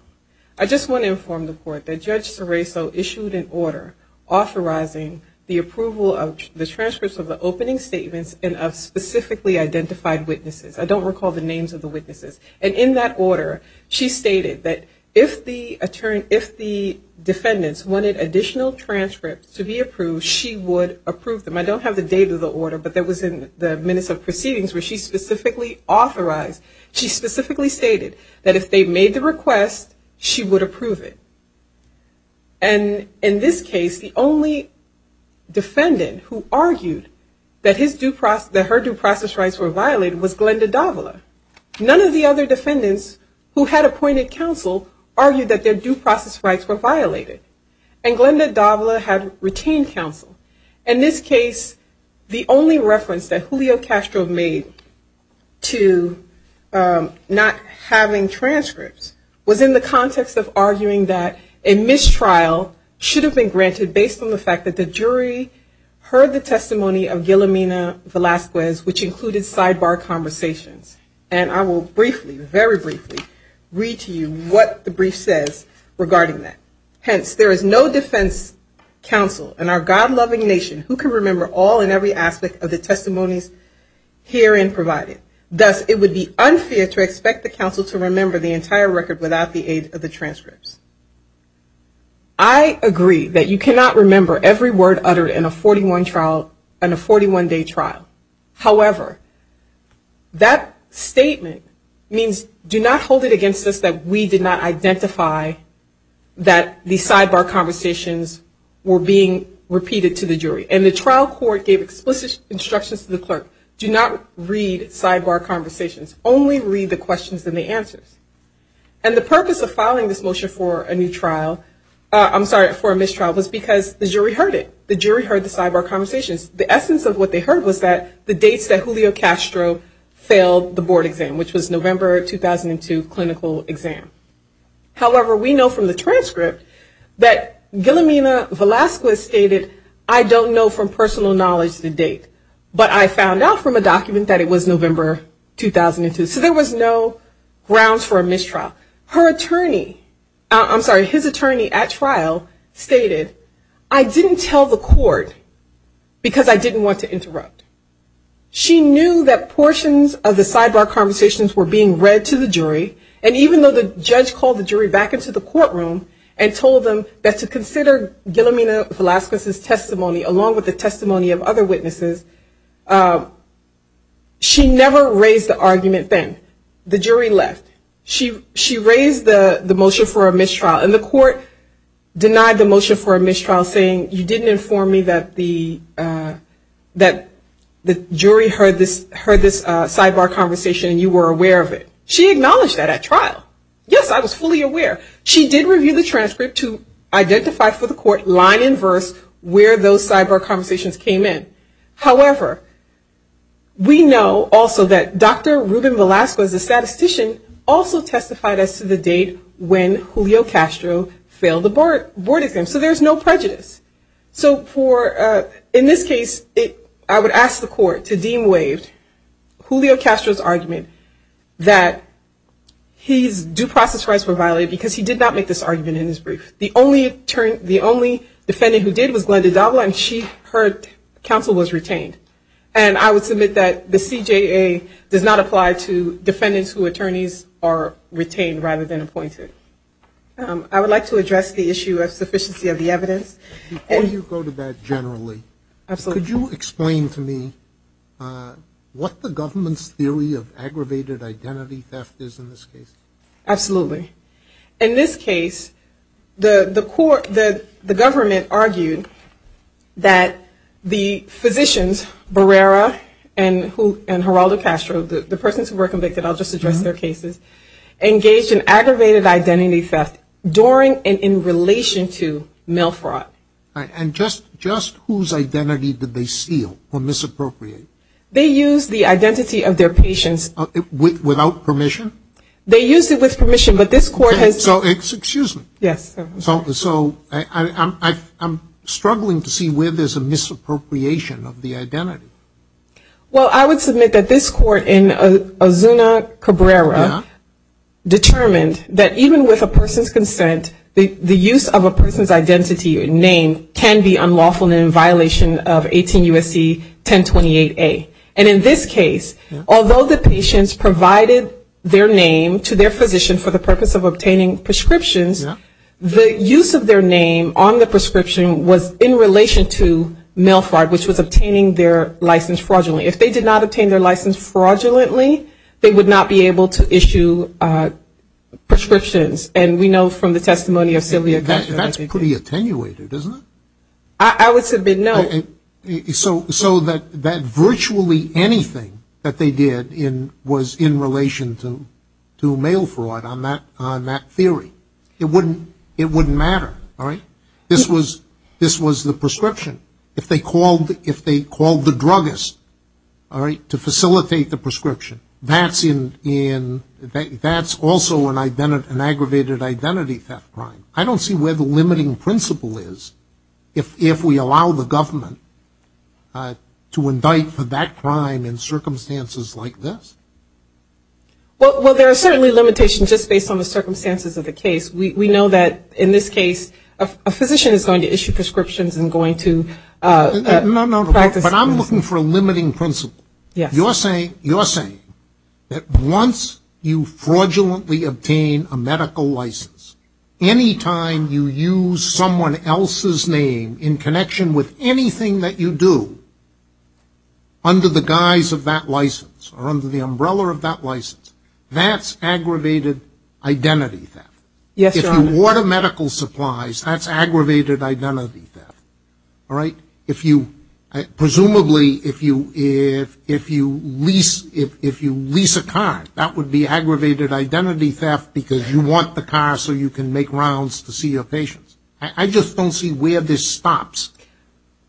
I just want to inform the court that Judge Serafo issued an order authorizing the approval of the transcripts of the opening statements and of specifically identified witnesses. I don't have the date of the order, but that was in the minutes of proceedings where she specifically authorized, she specifically stated that if they made the request, she would approve it. And in this case, the only defendant who argued that her due process rights were violated was Glenda Davila. None of the other defendants in this case had the right to have the transcripts and none of the other defendants who had appointed counsel argued that their due process rights were violated and Glenda Davila had retained counsel. In this case, the only reference that Julio Castro made to not having transcripts was in the context of arguing that a mistrial should have been granted based on the fact that the jury heard the testimony of Guillemina Velazquez, which included a sidebar conversation. And I will briefly, very briefly, read to you what the brief says regarding that. Hence, there is no defense counsel in our God-loving nation who can remember all and every aspect of the testimony herein provided. Thus, it would be unfair to expect the counsel to remember the entire record without the aid of the transcripts. I agree that you cannot remember every word uttered in a 41-day trial. However, that statement means do not hold it against us that we did not identify that the sidebar conversations were being repeated to the jury. And the trial court gave explicit instructions to the clerk, do not read sidebar conversations. Only read the questions and the answers. And the purpose of filing this motion for a new trial, I'm sorry, for a mistrial was because the jury heard it. The jury heard the sidebar conversations. The essence of what they heard was that the dates that Julio Castro failed the board exam, which was November 2002 clinical exam. However, we know from the transcript that Guillemina Velazquez stated, I don't know from personal knowledge the date, but I found out from a document that it was November 2002. So there was no grounds for a mistrial. Her attorney, I'm telling the court because I didn't want to interrupt. She knew that portions of the sidebar conversations were being read to the jury. And even though the judge called the jury back into the courtroom and told them that to consider Guillemina Velazquez's testimony along with the testimony of other witnesses, she never raised the argument then. The jury left. She raised the motion for a new trial. She didn't inform me that the jury heard this sidebar conversation and you were aware of it. She acknowledged that at trial. Yes, I was fully aware. She did review the transcript to identify for the court line and verse where those sidebar conversations came in. However, we know also that Dr. Ruben Velazquez, the statistician, also testified as to the date when Julio Castro failed the board exam. So there's no prejudice. So in this case, I would ask the court to deem ways Julio Castro's argument that his due process rights were violated because he did not make this argument in his brief. The only defendant who did was Glenda Davila and her counsel was retained. And I would submit that the CJA does not apply to defendants who attorneys are retained rather than appointed. I would like to address the issue of sufficiency of the evidence. Before you go to that generally, could you explain to me what the government's theory of aggravated identity theft is in this case? Absolutely. In this case, the court, the government argued that the physicians, Barrera and Heraldo Castro, the persons who were convicted, I'll just address theft during and in relation to mail fraud. And just whose identity did they steal or misappropriate? They used the identity of their patients. Without permission? They used it with permission, but this court has... Excuse me. Yes. So I'm struggling to see where there's a misappropriation of the identity. Well, I would submit that this court in Ozuna-Cabrera determined that even with a person's consent, the use of a person's identity or name can be unlawful and in violation of 18 U.S.C. 1028A. And in this case, although the patients provided their name to their physician for the purpose of obtaining prescriptions, the use of their name on the prescription was in relation to mail fraud, which was obtaining their license fraudulently. If they did not obtain their license fraudulently, they would not be able to issue prescriptions. And we know from the testimony of Sylvia Castro... That's pretty attenuated, isn't it? I would submit no. So that virtually anything that they did was in relation to mail fraud on that theory. It wouldn't matter, all right? This was the prescription. If they called the druggist to facilitate the prescription, that's also an aggravated identity theft crime. I don't see where the limiting principle is if we allow the government to indict for that crime in circumstances like this. Well, there are certainly limitations just based on the circumstances of the case. We know that in this case, a physician is going to issue prescriptions and going to... But I'm looking for a limiting principle. You're saying that once you fraudulently obtain a medical license, any time you use someone else's name in connection with anything that you do under the guise of that license or under the umbrella of that license, that's aggravated identity theft. If you order medical supplies, that's aggravated identity theft, all right? Presumably, if you lease a car, that would be aggravated identity theft because you want the car so you can make rounds to see your patients. I just don't see where this stops.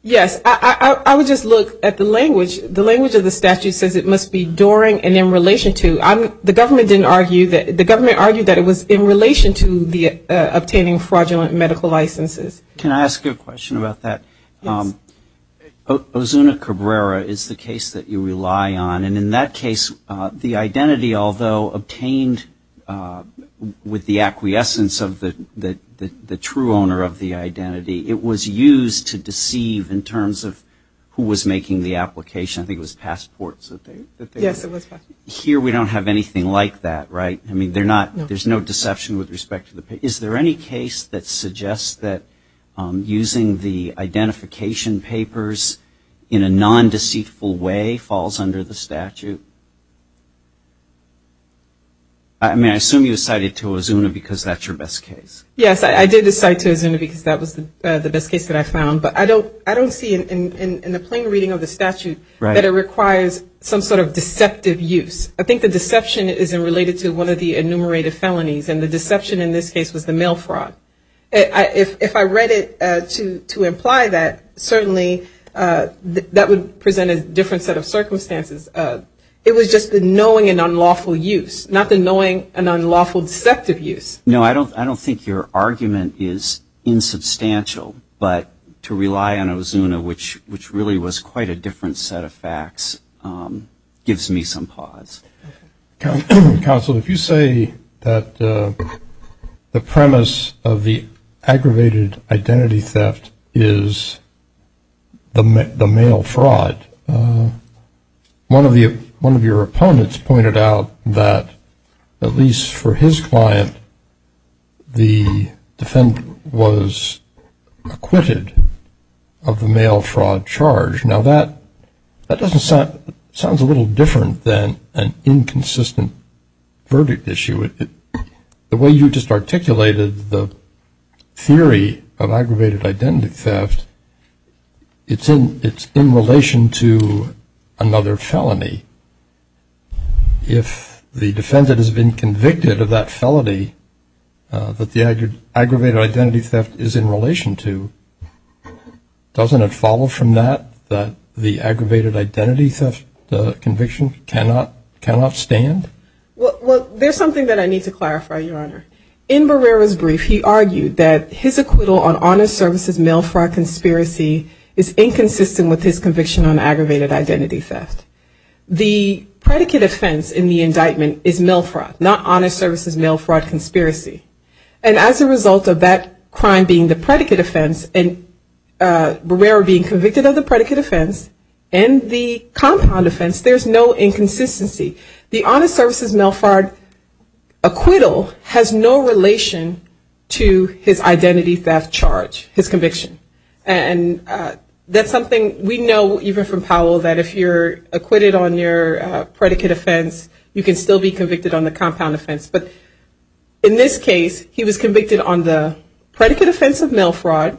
Yes. I would just look at the language. The language of the statute says it must be and in relation to. The government argued that it was in relation to obtaining fraudulent medical licenses. Can I ask you a question about that? Ozuna Cabrera is the case that you rely on, and in that case, the identity, although obtained with the acquiescence of the true owner of the identity, it was used to deceive in terms of who was making the application. I think it was here. We don't have anything like that, right? I mean, there's no deception with respect to the picture. Is there any case that suggests that using the identification papers in a non-deceitful way falls under the statute? I mean, I assume you cited to Ozuna because that's your best case. Yes, I did decide to Ozuna because that was the best case that I found, but I don't see in the plain reading of the statute that it requires some sort of deceptive use. I think the deception is related to one of the enumerated felonies, and the deception in this case was the mail fraud. If I read it to imply that, certainly that would present a different set of circumstances. It was just the knowing an unlawful use, not the knowing an unlawful deceptive use. No, I don't think your argument is insubstantial, but to rely on Ozuna, which really was quite a different set of facts, gives me some pause. Counsel, if you say that the premise of the aggravated identity theft is the mail fraud, one of your opponents pointed out that, at least for his client, the defendant was acquitted of the mail fraud charge. Now, that sounds a little different than an inconsistent verdict issue. The way you just articulated the theory of aggravated identity theft, it's in relation to another felony. If the defendant has been convicted of that felony, that the aggravated identity theft is in relation to, doesn't it follow from that, that the aggravated identity theft conviction cannot stand? Well, there's something that I need to clarify, Your Honor. In Barrera's brief, he argued that his acquittal on honest services mail fraud conspiracy is inconsistent with his conviction on aggravated identity theft. The predicate offense in the indictment is mail fraud, not honest services mail fraud conspiracy. As a result of that crime being the predicate offense and Barrera being convicted of the predicate offense and the compound offense, there's no inconsistency. The honest services mail fraud acquittal has no relation to his identity theft charge, his conviction. And that's something we know, even from Powell, that if you're acquitted on your predicate offense, you can still be convicted on the compound offense. But in this case, he was convicted on the predicate offense of mail fraud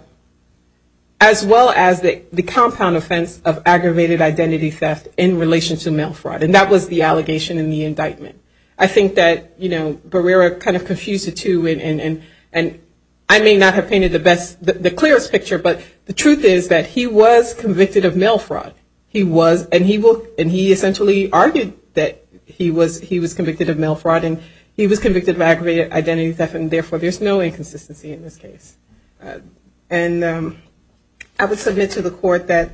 as well as the compound offense of aggravated identity theft in relation to mail fraud. And that was the allegation in the indictment. I think that, you know, Barrera kind of confused the two, and I may not have painted the best, the clearest picture, but the truth is that he was convicted of mail fraud. He was, and he essentially argued that he was convicted of mail fraud, and he was convicted of aggravated identity theft, and therefore there's no inconsistency in this case. And I would submit to the court that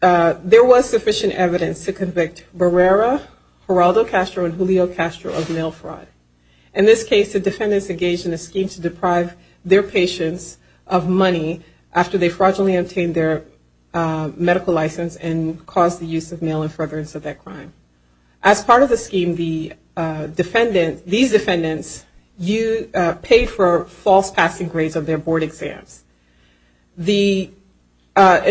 there was sufficient evidence to convict Barrera, Geraldo Castro, and Julio Castro of mail fraud. In this case, the defendants engaged in a scheme to deprive their patients of money after they fraudulently obtained their medical license and caused the use of mail in furtherance of that crime. As part of the scheme, these defendants paid for false passing grades of their board exams. In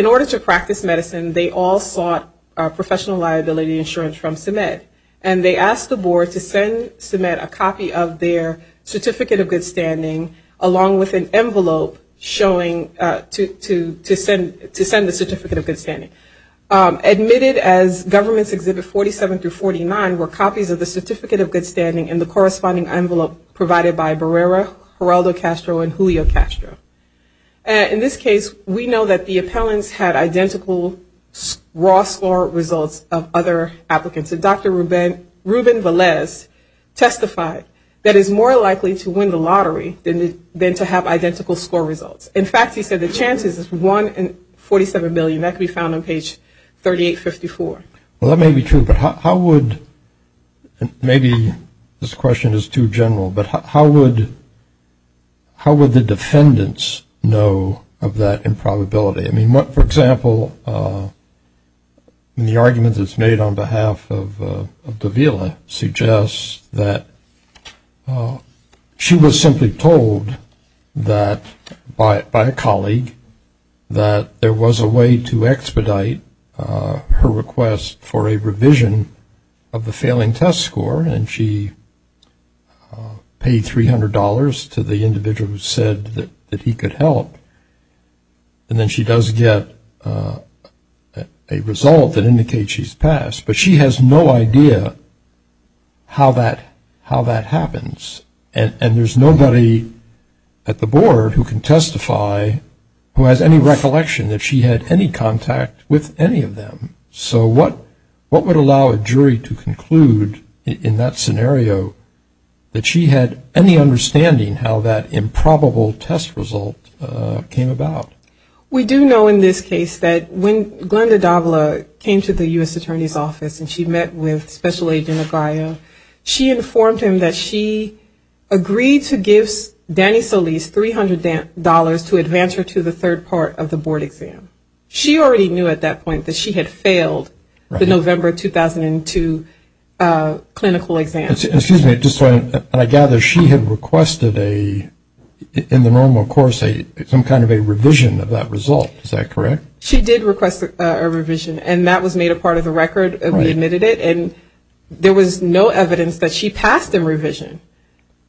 order to practice medicine, they all sought professional liability insurance from CEMED, and they asked the board to send CEMED a copy of their Certificate of Good Standing along with an envelope showing to send the Certificate of Good Standing. Admitted as Governments Exhibits 47 through 49 were copies of the Certificate of Good Standing and the corresponding envelope provided by Barrera, Geraldo Castro, and Julio Castro. In this case, we know that the appellants had identical raw score results of other applicants. Dr. Ruben Velez testified that it's more likely to win the lottery than to have identical score results. In fact, he said the chances is 1 in 47 million. That can be found on page 3854. Well, that may be true, but how would maybe this question is too general, but how would the defendants know of that improbability? I mean, for example, the argument that's made on behalf of Davila suggests that she was simply told that by a colleague that there was a way to expedite her request for a revision of the failing test score, and she paid $300 to the individual who said that he could help, and then she does get a result that indicates she's passed, but she has no idea how that happens, and there's nobody at the board who can testify who has any recollection that she had any contact with any of them. So, what would allow a jury to conclude in that scenario that she had any understanding how that improbable test result came about? We do know in this case that when Glenda Davila came to the U.S. Attorney's Office and she met with Special Aide Benagraia, she informed him that she agreed to give Danny Solis $300 to advance her to the third part of the board exam. She already knew at that point that she had failed the November 2002 clinical exam. Excuse me. I gather she had requested in the normal course some kind of a revision of that result. Is that correct? She did request a revision, and that was made a part of the record as we admitted it, and there was no evidence that she passed the revision,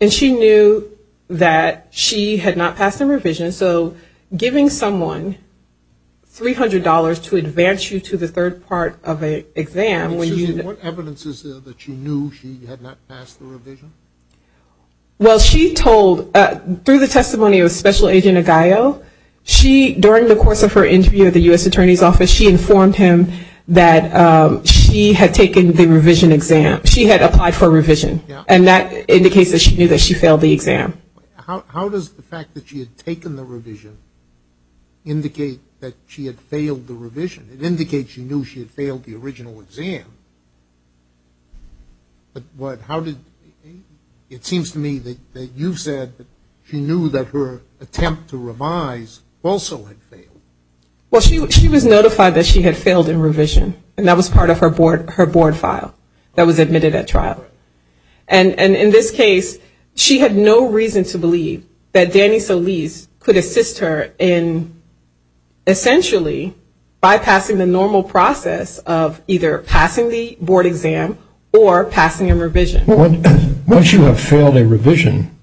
and she knew that she had not passed the revision. So, giving someone $300 to advance you to the third part of an exam when you... Excuse me. What evidence is there that you knew she had not passed the revision? Well, she told, through the testimony of Special Aide Benagraia, she, during the course of interview at the U.S. Attorney's Office, she informed him that she had taken the revision exam. She had applied for a revision, and that indicates that she knew that she failed the exam. How does the fact that she had taken the revision indicate that she had failed the revision? It indicates she knew she had failed the original exam, but how did... It seems to me that you said that she knew that her attempt to revise also had failed. Well, she was notified that she had failed in revision, and that was part of her board file that was admitted at trial. And in this case, she had no reason to believe that Danny Solis could assist her in essentially bypassing the normal process of either passing the board exam or passing a revision. Once you have failed a revision,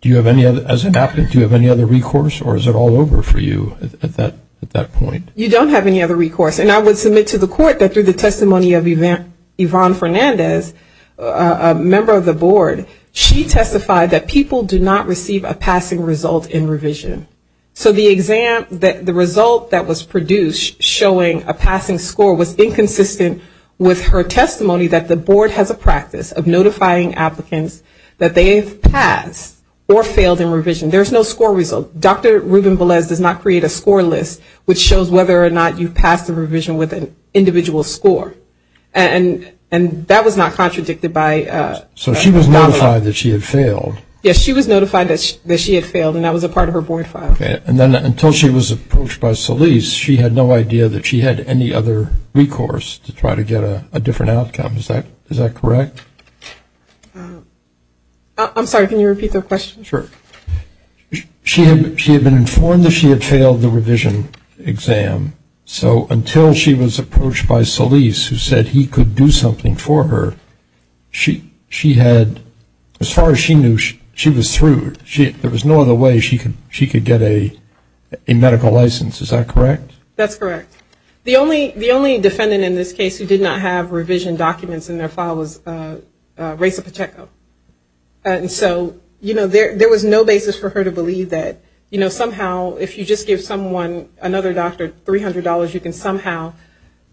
do you have any other... for you at that point? You don't have any other recourse. And I would submit to the court that through the testimony of Yvonne Fernandez, a member of the board, she testified that people did not receive a passing result in revision. So the result that was produced showing a passing score was inconsistent with her testimony that the board has a practice of notifying applicants that they've passed or failed in revision. There's no score result. Dr. Rubin-Velez does not create a score list which shows whether or not you've passed the revision with an individual score. And that was not contradicted by... So she was notified that she had failed. Yes, she was notified that she had failed, and that was a part of her board file. And then until she was approached by Solis, she had no idea that she had any other recourse to try to get a different outcome. Is that correct? I'm sorry, can you repeat the question? Sure. She had been informed that she had failed the revision exam. So until she was approached by Solis, who said he could do something for her, she had... As far as she knew, she was through. There was no other way she could get a medical license. Is that correct? That's correct. The only defendant in this case who did not have revision documents in their file was Reza Pacheco. And so there was no basis for her to believe that somehow if you just give someone, another doctor, $300, you can somehow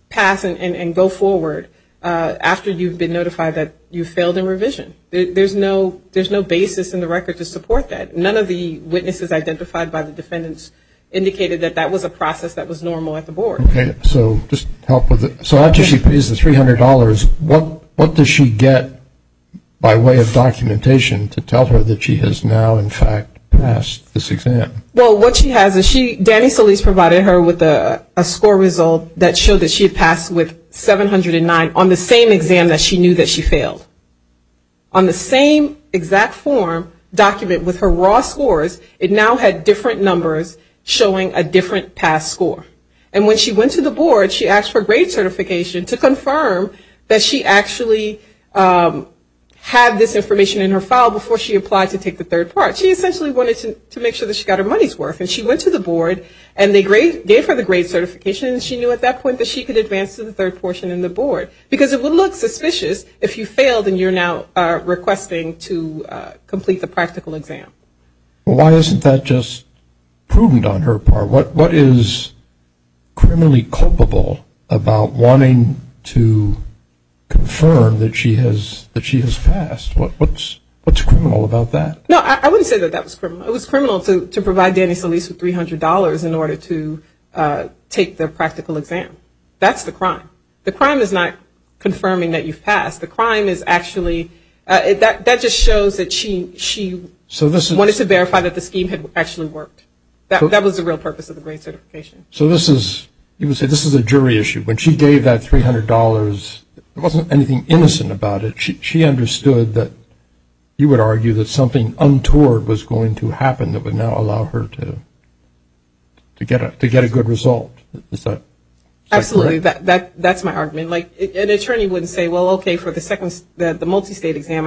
pass and go forward after you've been notified that you failed in revision. There's no basis in the record to support that. None of the witnesses identified by the defendants indicated that that was a process that was normal at the board. So just to help with it, so after she pays the $300, what does she get by way of documentation to tell her that she has now in fact passed this exam? Well, what she has is she... Danny Solis provided her with a score result that showed that she had passed with 709 on the same exam that she knew that she failed. On the same exact form document with her raw scores, it now had different numbers showing a different pass score. And when she went to the board, she asked for grade certification to confirm that she actually had this information in her file before she applied to take the third part. She essentially wanted to make sure that she got her money's worth. And she went to the board and they gave her the grade certification that she knew at that point, but she could advance to the third portion in the board. Because it would look suspicious if you failed and you're now requesting to complete the practical exam. Why isn't that just prudent on her part? What is criminally culpable about wanting to confirm that she has passed? What's criminal about that? No, I wouldn't say that that was criminal. It was criminal to provide Danny Solis with $300 in order to take the practical exam. That's the crime. The crime is not confirming that you've passed. The crime is actually... That just shows that she... Wanted to verify that the scheme had actually worked. That was the real purpose of the grade certification. So this is... You can say this is a jury issue. When she gave that $300, there wasn't anything innocent about it. She understood that you would argue that something untoward was going to happen that would not allow her to get a good result. Is that correct? Absolutely. That's my argument. An attorney wouldn't say, well, okay, for the second... I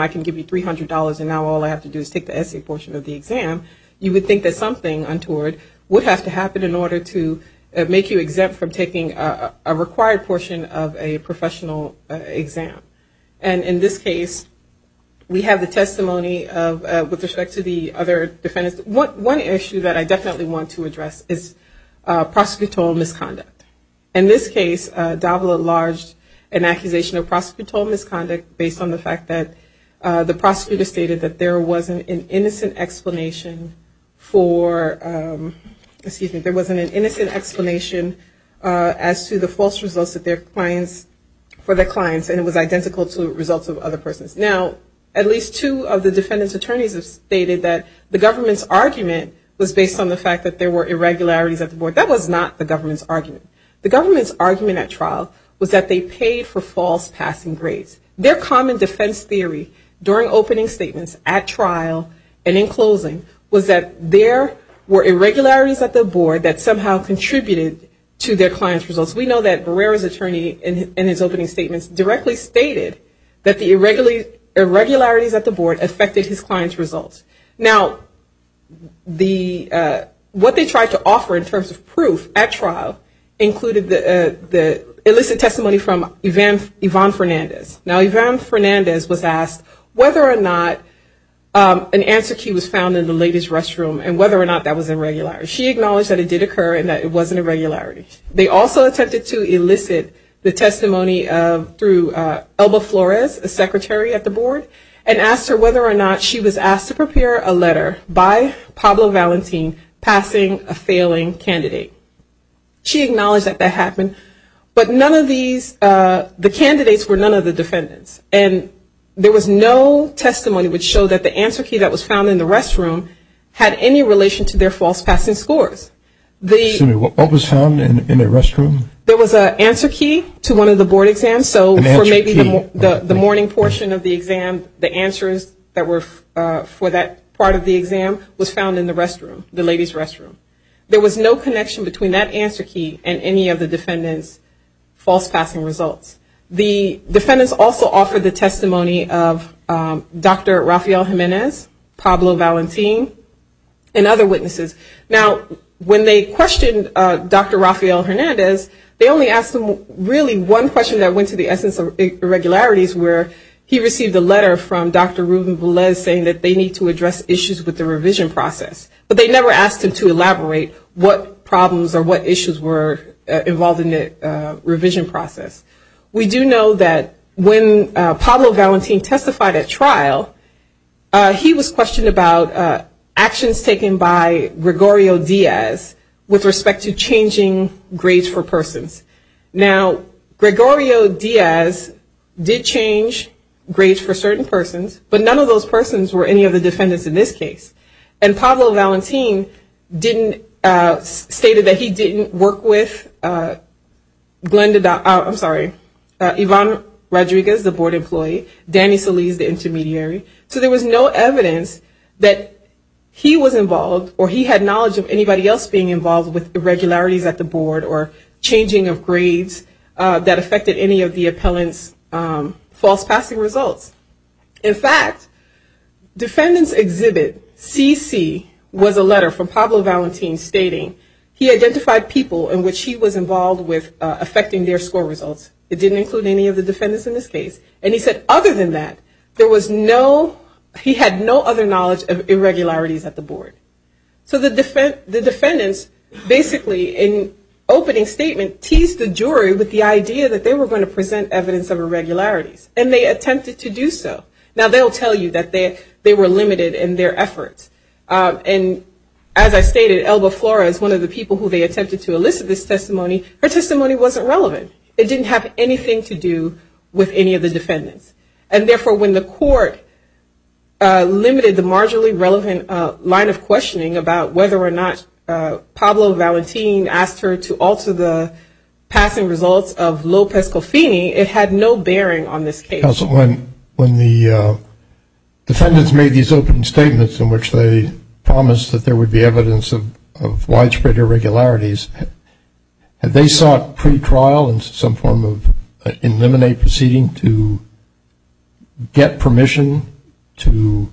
can give you $300 and now all I have to do is take the essay portion of the exam. You would think that something untoward would have to happen in order to make you exempt from taking a required portion of a professional exam. And in this case, we have the testimony with respect to the other defendants. One issue that I definitely want to address is prosecutorial misconduct. In this case, Davila lodged an accusation of prosecutorial misconduct based on the fact that the prosecutor stated that there wasn't an innocent explanation for... Excuse me. There wasn't an innocent explanation as to the false results for their clients and it was identical to results of other persons. Now, at least two of the defendant's attorneys have stated that the government's argument was based on the fact that there were irregularities of the board. That was not the case at trial. It was that they paid for false passing grades. Their common defense theory during opening statements at trial and in closing was that there were irregularities at the board that somehow contributed to their client's results. We know that Guerrero's attorney in his opening statements directly stated that the irregularities at the board affected his client's results. Now, what they tried to offer in terms of proof at trial included the illicit testimony from Yvonne Fernandez. Now, Yvonne Fernandez was asked whether or not an answer key was found in the lady's restroom and whether or not that was irregularity. She acknowledged that it did occur and that it wasn't irregularity. They also attempted to elicit the testimony through Elba Flores, a secretary at the board, and asked her whether or not she was asked to prepare a letter by Pablo Valentin passing a failing candidate. She acknowledged that that happened, but none of these, the candidates were none of the defendants, and there was no testimony which showed that the answer key that was found in the restroom had any relation to their false passing scores. Excuse me. What was found in the restroom? There was an answer key to one of the board exams, so for maybe the morning portion of the exam, the answers that were for that part of the exam was found in the restroom, the lady's restroom. There was no connection between that answer key and any of the defendants' false passing results. The defendants also offered the testimony of Dr. Rafael Jimenez, Pablo Valentin, and other witnesses. Now, when they questioned Dr. Rafael Hernandez, they only asked him really one question that came to the essence of irregularities, where he received a letter from Dr. Ruben Velez saying that they need to address issues with the revision process, but they never asked him to elaborate what problems or what issues were involved in the revision process. We do know that when Pablo Valentin testified at trial, he was questioned about actions by Gregorio Diaz with respect to changing grades for persons. Now, Gregorio Diaz did change grades for certain persons, but none of those persons were any of the defendants in this case, and Pablo Valentin stated that he didn't work with Ivan Rodriguez, the board or he had knowledge of anybody else being involved with irregularities at the board or changing of grades that affected any of the appellant's false passing results. In fact, defendants' exhibit, CC, was a letter from Pablo Valentin stating he identified people in which he was involved with affecting their score results. It didn't include any of the defendants in this case, and he said other than that, he had no other knowledge of irregularities at the board. So the defendants basically, in opening statements, teased the jury with the idea that they were going to present evidence of irregularities, and they attempted to do so. Now, they'll tell you that they were limited in their efforts, and as I stated, Elba Flores, one of the people who they attempted to elicit this testimony, her testimony wasn't relevant. It didn't have anything to do with any of the defendants, and therefore, when the court limited the marginally relevant line of questioning about whether or not Pablo Valentin asked her to alter the passing results of Lopez-Gosini, it had no bearing on this case. When the defendants made these open statements in which they promised that there would be evidence of widespread irregularities, had they sought pre-trial and some form of eliminate proceeding to get permission to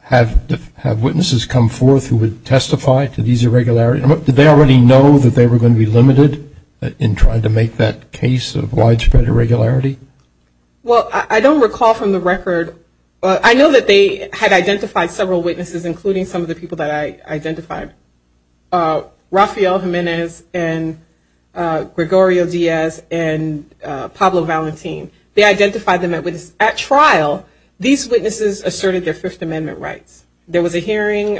have witnesses come forth who would testify to these irregularities? Did they already know that they were going to be limited in trying to make that case of widespread irregularity? Well, I don't recall from the record. I know that they had identified several witnesses, including some of the people that I identified. Rafael Jimenez and Gregorio Diaz and Pablo Valentin. They identified them at trial. These witnesses asserted their Fifth Amendment rights. There was a hearing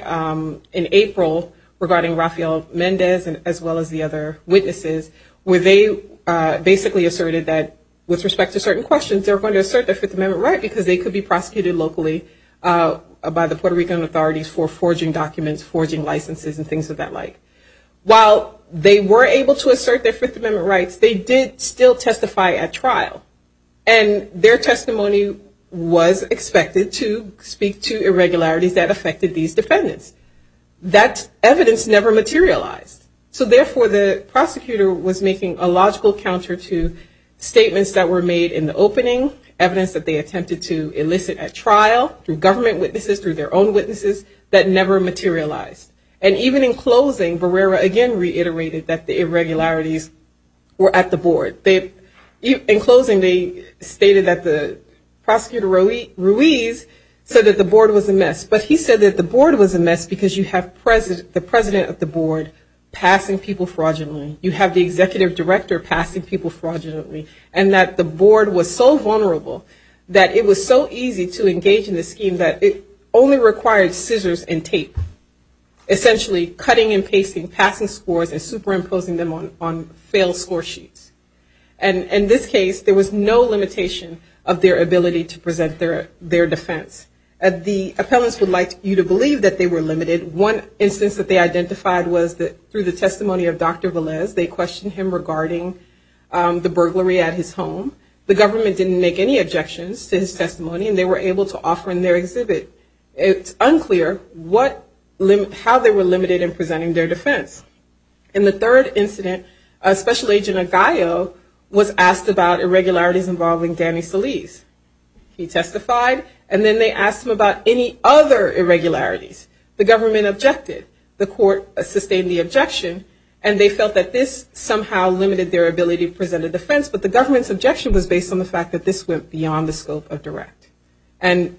in April regarding Rafael Jimenez as well as the other witnesses where they basically asserted that with respect to certain questions, they were going to assert their Fifth Amendment right because they could be prosecuted locally by the Puerto Rican authorities for forging documents, forging licenses, and things of that like. While they were able to assert their Fifth Amendment rights, they did still testify at trial. And their testimony was expected to speak to irregularities that affected these defendants. That evidence never materialized. So therefore, the prosecutor was making a logical counter to statements that were made in the opening, evidence that they attempted to elicit at trial, through government witnesses, through their own witnesses, that never materialized. And even in closing, Barrera again reiterated that the irregularities were at the board. In closing, they stated that the prosecutor, Ruiz, said that the board was a mess. But he said that the board was a mess because you have the president of the board passing people fraudulently. You have the executive director passing people fraudulently. And that the board was so vulnerable that it was so easy to engage in the scheme that it only required scissors and tape. Essentially, cutting and pasting, passing scores, and superimposing them on failed score sheets. And in this case, there was no limitation of their ability to present their defense. The appellants would like you to believe that they were limited. One instance that they identified was that through the testimony of Dr. Velez, they questioned him regarding the burglary at his home. The government didn't make any objections to his testimony, and they were able to offer in It's unclear how they were limited in presenting their defense. In the third incident, a special agent at GAIO was asked about irregularities involving Danny Feliz. He testified, and then they asked him about any other irregularities. The government objected. The court sustained the objection, and they felt that this somehow limited their ability to present a defense. But the government's objection was based on the fact that this went beyond the scope of direct, and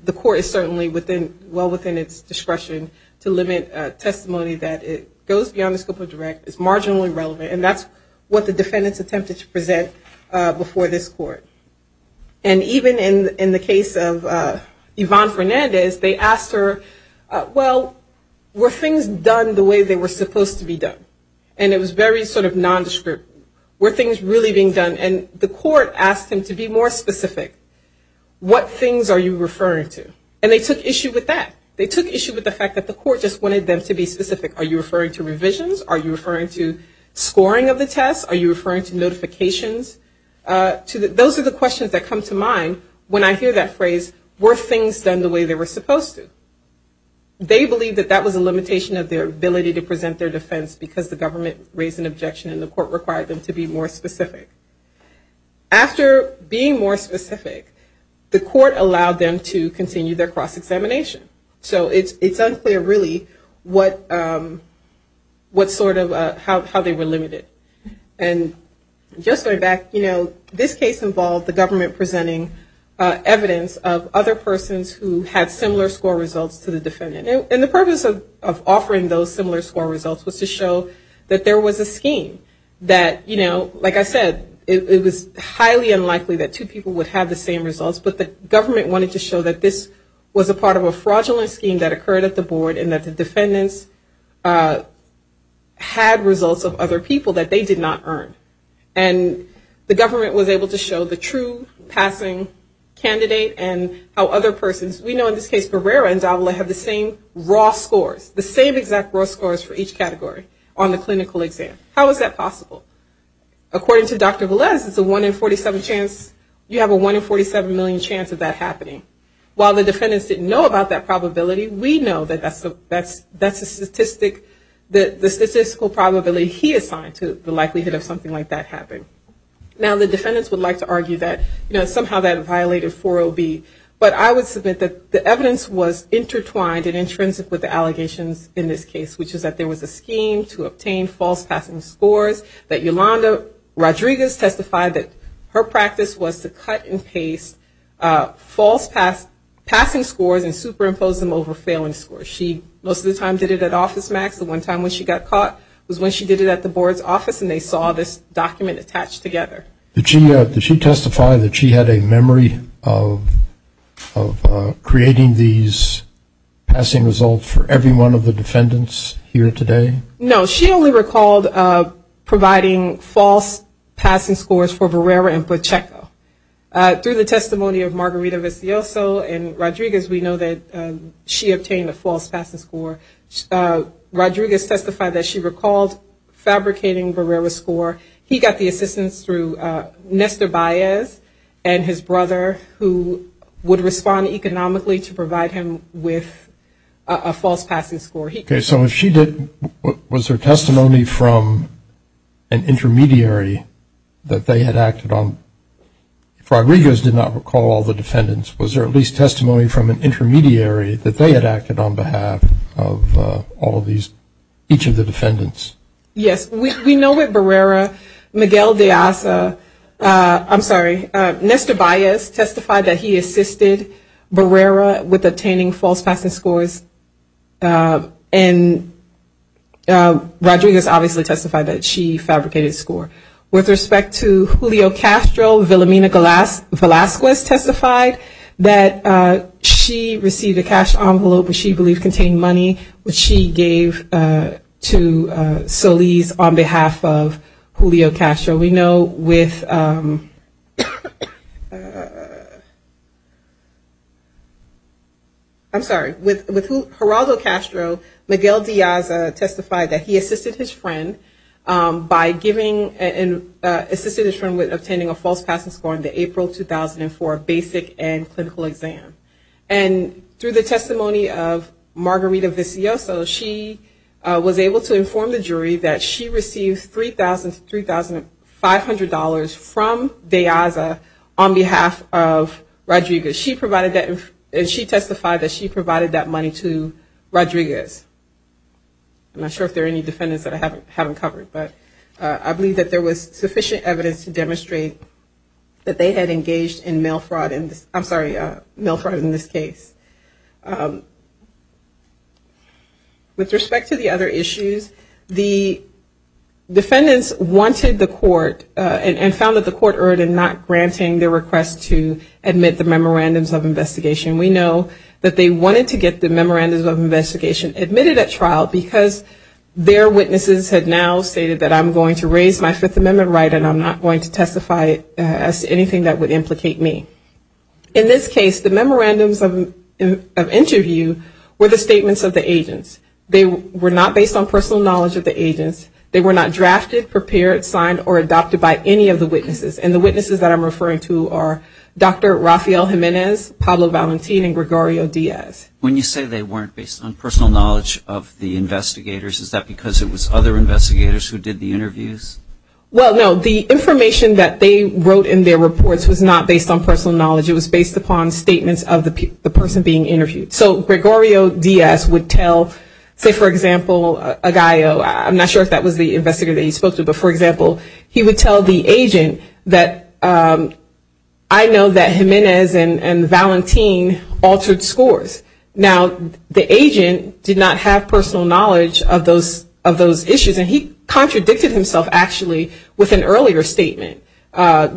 that's what the defendants attempted to present before this court. And even in the case of Yvonne Fernandez, they asked her, well, were things done the way they were supposed to be done? And it was very sort of nondescript. Were things really being done? And the court asked him to be more specific. What things are you referring to? And they took issue with that. They took issue with the fact that the court just wanted them to be specific. Are you referring to revisions? Are you referring to scoring of the test? Are you referring to notifications? Those are the questions that come to mind when I hear that phrase, were things done the way they were supposed to? They believe that that was a limitation of their ability to present their defense because the government raised an objection, and the court required them to be more specific. After being more specific, the court allowed them to continue their cross-examination. So it's unclear really how they were limited. And just going back, this case involved the government presenting evidence of other persons who had similar score results to the defendant. And the purpose of offering those similar score results was to show that there was a scheme that, you know, like I said, it was highly unlikely that two people would have the same results, but the government wanted to show that this was a part of a fraudulent scheme that occurred at the board and that the defendants had results of other people that they did not earn. And the government was able to show the true passing candidate and how other persons, we know in this case Barrera and Zavala have the same raw scores, the same exact raw scores for each category on the clinical exam. How is that possible? According to Dr. Velez, the one in 47 chance, you have a one in 47 million chance of that happening. While the defendants didn't know about that probability, we know that that's a statistic, the statistical probability he assigned to the likelihood of something like that happening. Now the defendants would like to argue that, you know, somehow that violated 40B, but I would submit that the evidence was intertwined and intrinsic with the allegations in this case, which is that there was a scheme to obtain false passing scores, that Yolanda Rodriguez testified that her practice was to cut and paste false passing scores and superimpose them over failing scores. She most of the time did it at OfficeMax. The one time when she got caught was when she did it at the board's office and they saw this document attached together. Did she testify that she had a memory of creating these passing results for every one of the defendants here today? No, she only recalled providing false passing scores for Verrera and Pacheco. Through the testimony of Margarita Vecchioso and Rodriguez, we know that she obtained a false passing score. Rodriguez testified that she recalled fabricating Verrera's score. He got the assistance through Nestor Baez and his brother, who would respond economically to provide him with a false passing score. Okay, so if she did, was there testimony from an intermediary that they had acted on? Rodriguez did not recall all the defendants. Was there at least testimony from an intermediary that they had acted on behalf of all of these, each of the defendants? Yes, we know that Verrera, Miguel de Alca, I'm sorry, Nestor Baez testified that he assisted Verrera with obtaining false passing scores, and Rodriguez obviously testified that she fabricated the score. With respect to Julio Castro, Vilamina Velazquez testified that she received a cash envelope that she believes contained money, which she gave to Solis on behalf of Julio Castro. We know with, I'm sorry, with Gerardo Castro, Miguel de Alca testified that he assisted his friend by giving, and assisted his friend with obtaining a false passing score in the April 2004 basic and clinical exam. And through the testimony of Margarita Vecchioso, she was able to inform the jury that she received $3,500 from Beaza on behalf of Rodriguez. She provided that, and she testified that she provided that money to Rodriguez. I'm not sure if there are any defendants that I haven't covered, but I believe that there was sufficient evidence to demonstrate that they had engaged in mail fraud, I'm sorry, mail fraud in this case. With respect to the other issues, the defendants wanted the court, and found that the court erred in not granting their request to admit the memorandums of investigation. We know that they wanted to get the memorandums of investigation admitted at trial because their witnesses had now stated that I'm going to raise my Fifth Amendment right, and I'm not going to testify as to anything that would implicate me. In this case, the memorandums of interview were the statements of the agents. They were not based on personal knowledge of the agents. They were not drafted, prepared, signed, or adopted by any of the witnesses. And the witnesses that I'm referring to are Dr. Rafael Jimenez, Pablo Valentin, and Gregorio Diaz. When you say they weren't based on personal knowledge of the investigators, is that because it was other investigators who did the interviews? Well, no, the information that they wrote in their reports was not based on personal knowledge. It was based upon statements of the person being interviewed. So, Gregorio Diaz would tell, say, for example, Agallo. I'm not sure if that was the investigator that he spoke to, but for example, he would tell the agent that I know that Jimenez and Valentin altered scores. Now, the agent did not have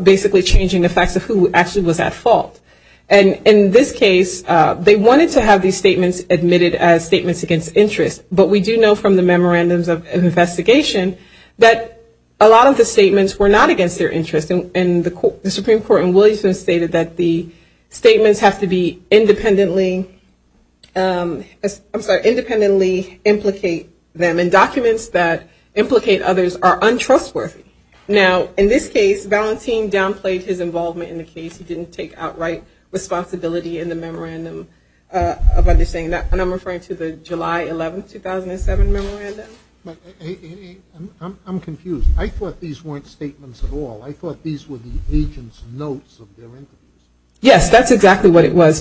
basically changing the fact of who actually was at fault. And in this case, they wanted to have these statements admitted as statements against interest, but we do know from the memorandums of investigation that a lot of the statements were not against their interest. And the Supreme Court in Williamson stated that the statements have to be independently and documents that implicate others are untrustworthy. Now, in this case, Valentin downplayed his involvement in the case. He didn't take outright responsibility in the memorandum of understanding. And I'm referring to the July 11, 2007 memorandum. I'm confused. I thought these weren't statements at all. I thought these were the agent's notes of their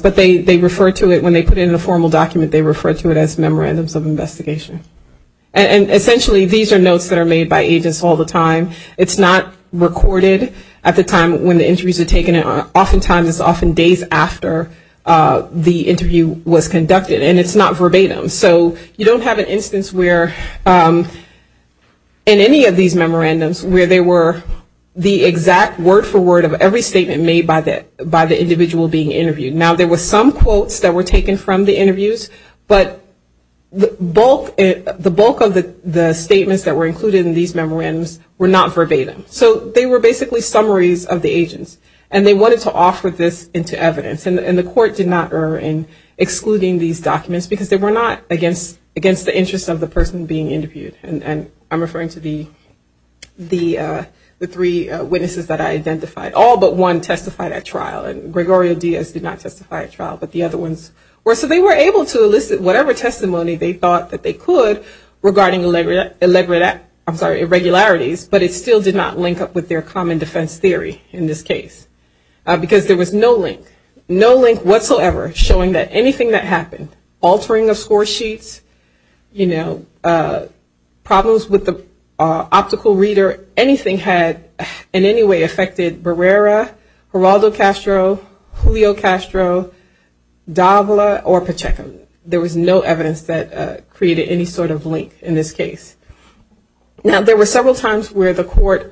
but they refer to it when they put it in a formal document, they refer to it as memorandums of investigation. And essentially, these are notes that are made by agents all the time. It's not recorded at the time when the interviews are taken. Oftentimes, it's often days after the interview was conducted, and it's not verbatim. So you don't have an instance where in any of these memorandums where they were the exact word for word of every statement made by the individual being interviewed. Now, there were some quotes that were taken from the interviews, but the bulk of the statements that were included in these memorandums were not verbatim. So they were basically summaries of the agents. And they wanted to offer this into evidence. And the court did not err in excluding these documents because they were not against the interest of the person being interviewed. And I'm referring to the three witnesses that I identified. All but one testified at trial, and Gregorio Diaz did not testify at trial, but the other ones were. So they were able to elicit whatever testimony they thought that they could regarding irregularities, but it still did not link up with their common defense theory in this case because there was no link, no link whatsoever showing that anything that happened, altering the score sheets, you know, problems with Julio Castro, Davila, or Pacheco. There was no evidence that created any sort of link in this case. Now, there were several times where the court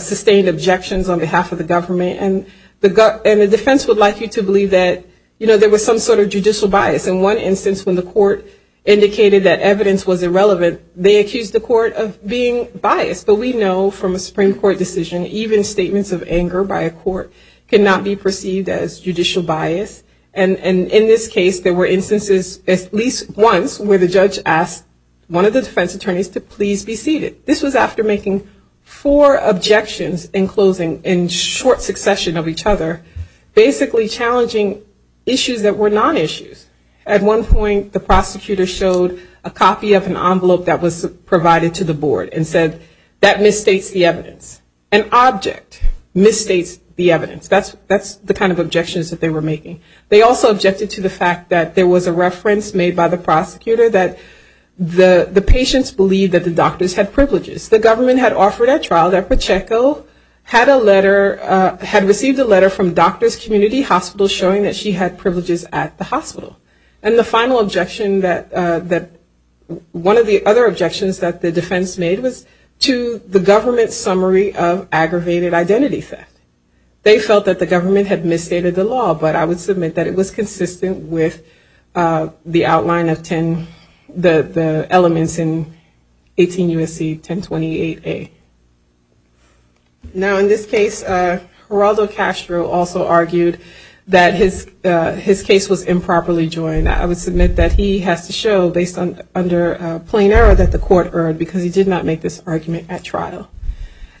sustained objections on behalf of the government, and the defense would like you to believe that, you know, there was some sort of judicial bias. In one instance when the court indicated that evidence was irrelevant, they accused the court of being biased. So we know from a Supreme Court decision, even statements of anger by a court, cannot be perceived as judicial bias. And in this case, there were instances, at least once, where the judge asked one of the defense attorneys to please be seated. This was after making four objections in closing, in short succession of each other, basically challenging issues that were not issues. At one point, the prosecutor showed a copy of an envelope that was provided to the board and said, that misstates the evidence. An object misstates the evidence. That's the kind of objections that they were making. They also objected to the fact that there was a reference made by the prosecutor that the patients believed that the doctors had privileges. The government had offered a trial that Pacheco had a letter, had received a letter from Doctors Community Hospital showing that she had privileges at the hospital. And the final objection that, one of the other objections that the defense made was to the government's summary of aggravated identity theft. They felt that the government had misstated the law, but I would submit that it was consistent with the outline of 10, the elements in 18 U.S.C. 1028A. Now, in this case, Geraldo Castro also argued that his case was improperly joined. I would submit that he has to show, based on, under plain error, that the court erred, because he did not make this argument at trial.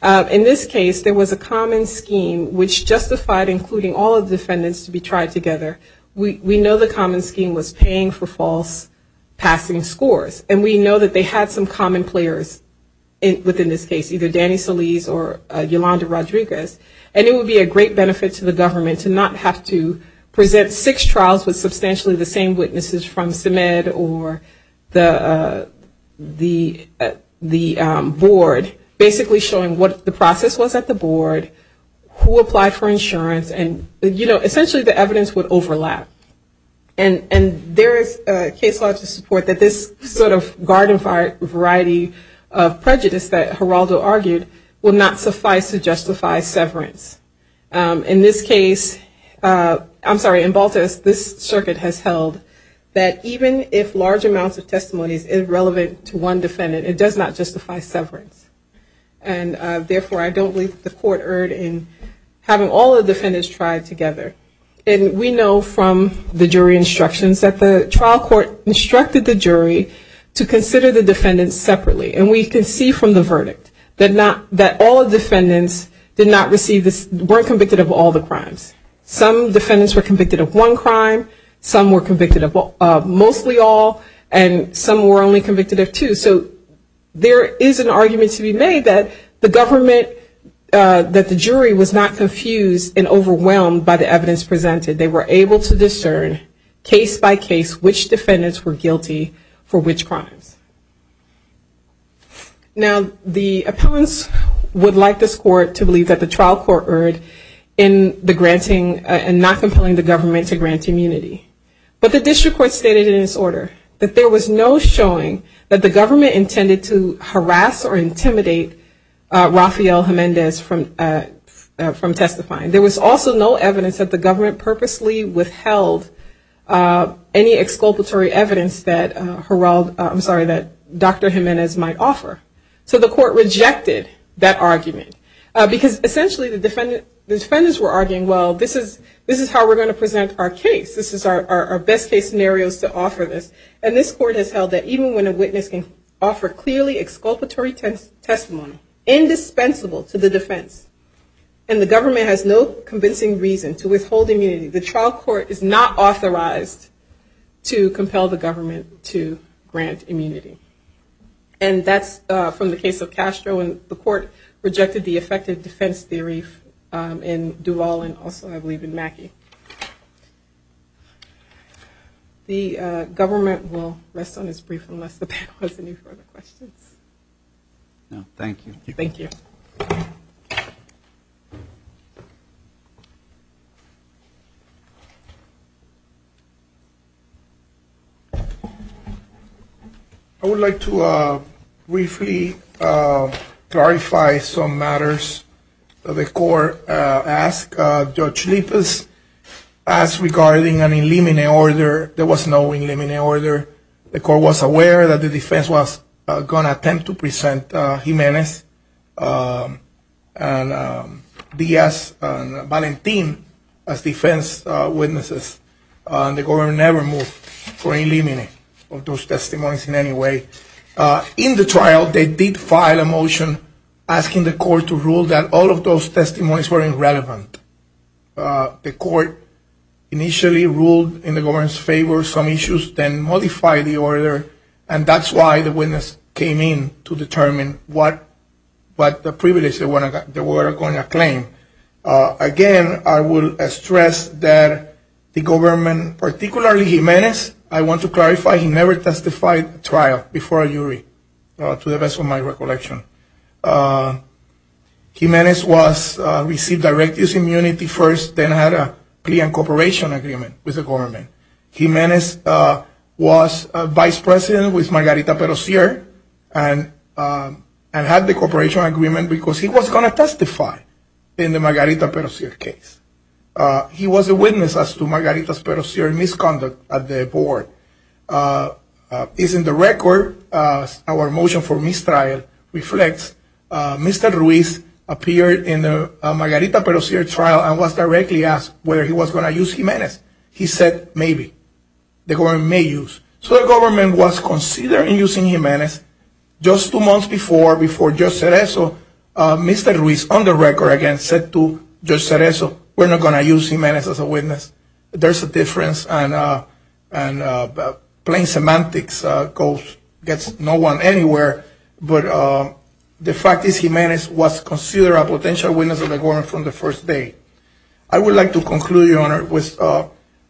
In this case, there was a common scheme which justified including all of the defendants to be tried together. We know the common scheme was paying for false passing scores, and we know that they had some common players within this case, either Danny Solis or Yolanda Rodriguez, and it would be a great benefit to the government to not have to present six trials with substantially the same witnesses from CEMED or the board, basically showing what the process was at the board, who applied for insurance, and, you know, essentially the evidence would overlap. And there is case law to support that this sort of garden fire variety of prejudice that Geraldo argued would not suffice to justify severance. In this case, I'm sorry, in Baltus, this circuit has held that even if large amounts of testimony is relevant to one defendant, it does not justify severance. And, therefore, I don't believe the court erred in having all the defendants tried together. And we know from the jury instructions that the trial court instructed the jury to that all defendants did not receive, weren't convicted of all the crimes. Some defendants were convicted of one crime, some were convicted of mostly all, and some were only convicted of two. So there is an argument to be made that the government, that the jury was not confused and overwhelmed by the evidence presented. They were able to discern case by case which would like this court to believe that the trial court erred in the granting and not compelling the government to grant immunity. But the district court stated in its order that there was no showing that the government intended to harass or intimidate Rafael Jimenez from testifying. There was also no evidence that the government purposely withheld any exculpatory evidence that Dr. Jimenez might offer. So the court rejected that argument. Because, essentially, the defendants were arguing, well, this is how we're going to present our case. This is our best case scenario to offer this. And this court has held that even when a witness can offer clearly exculpatory testimony, indispensable to the defense, and the government has no reason to withhold immunity, the trial court is not authorized to compel the government to grant immunity. And that's from the case of Castro. And the court rejected the effective defense theories in Doolal and also, I believe, in Mackey. The government will rest on its brief unless the defense is willing to grant immunity. I would like to briefly clarify some matters that the court asked. Judge Leifess asked regarding an in limine order. There was no in limine order. The court was aware that the defense was going to present Jimenez and Villas and Valentin as defense witnesses. The government never moved for in limine of those testimonies in any way. In the trial, they did file a motion asking the court to rule that all of those testimonies were irrelevant. The court initially ruled in the government's favor some issues, then modified the order, and that's why the witness came in to determine what the privilege they were going to claim. Again, I will stress that the government, particularly Jimenez, I want to clarify, he never testified trial before a jury, to the best of my recollection. Jimenez received direct use immunity first, then had a lien cooperation agreement with the Margarita and had the cooperation agreement because he was going to testify in the Margarita case. He was a witness as to Margarita's misconduct at the board. It's in the record, our motion for mistrial reflects, Mr. Ruiz appeared in the Margarita trial and was directly asked whether he was going to use Jimenez. He said maybe. So the government was considering using Jimenez. Just two months before, Mr. Ruiz on the record again said to Judge Cereso, we're not going to use Jimenez as a witness. There's a difference. Plain semantics goes, gets no one anywhere, but the fact is Jimenez was considered a potential witness of the government from the first day. I would like to conclude, Your Honor, with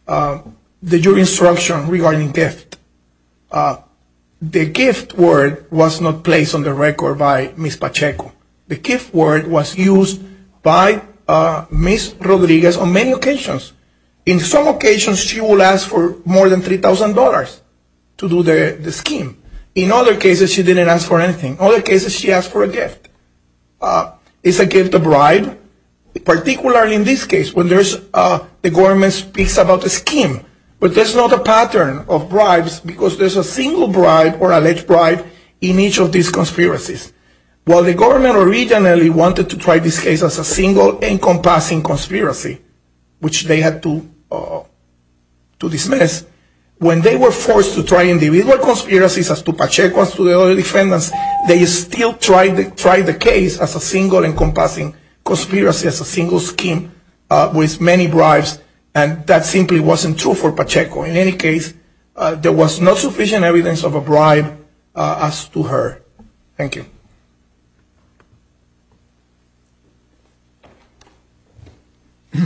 the jury's instruction regarding gift. The gift word was not placed on the record by Ms. Pacheco. The gift word was used by Ms. Rodriguez on many occasions. In some occasions, she will ask for more than $3,000 to do the scheme. In other cases, she didn't ask for anything. Other cases, she asked for a gift. It's a gift of bribe. Particularly in this case, when the government speaks about the scheme, but there's not a pattern of bribes because there's a single bribe or alleged bribe in each of these conspiracies. While the government originally wanted to try this case as a single encompassing conspiracy, which they had to dismiss, when they were forced to try individual conspiracies as to Pacheco and other defendants, they still tried the case as a single encompassing conspiracy, as a single scheme with many bribes. That simply wasn't true for Pacheco. In any case, there was not sufficient evidence of a bribe as to her. Thank you. I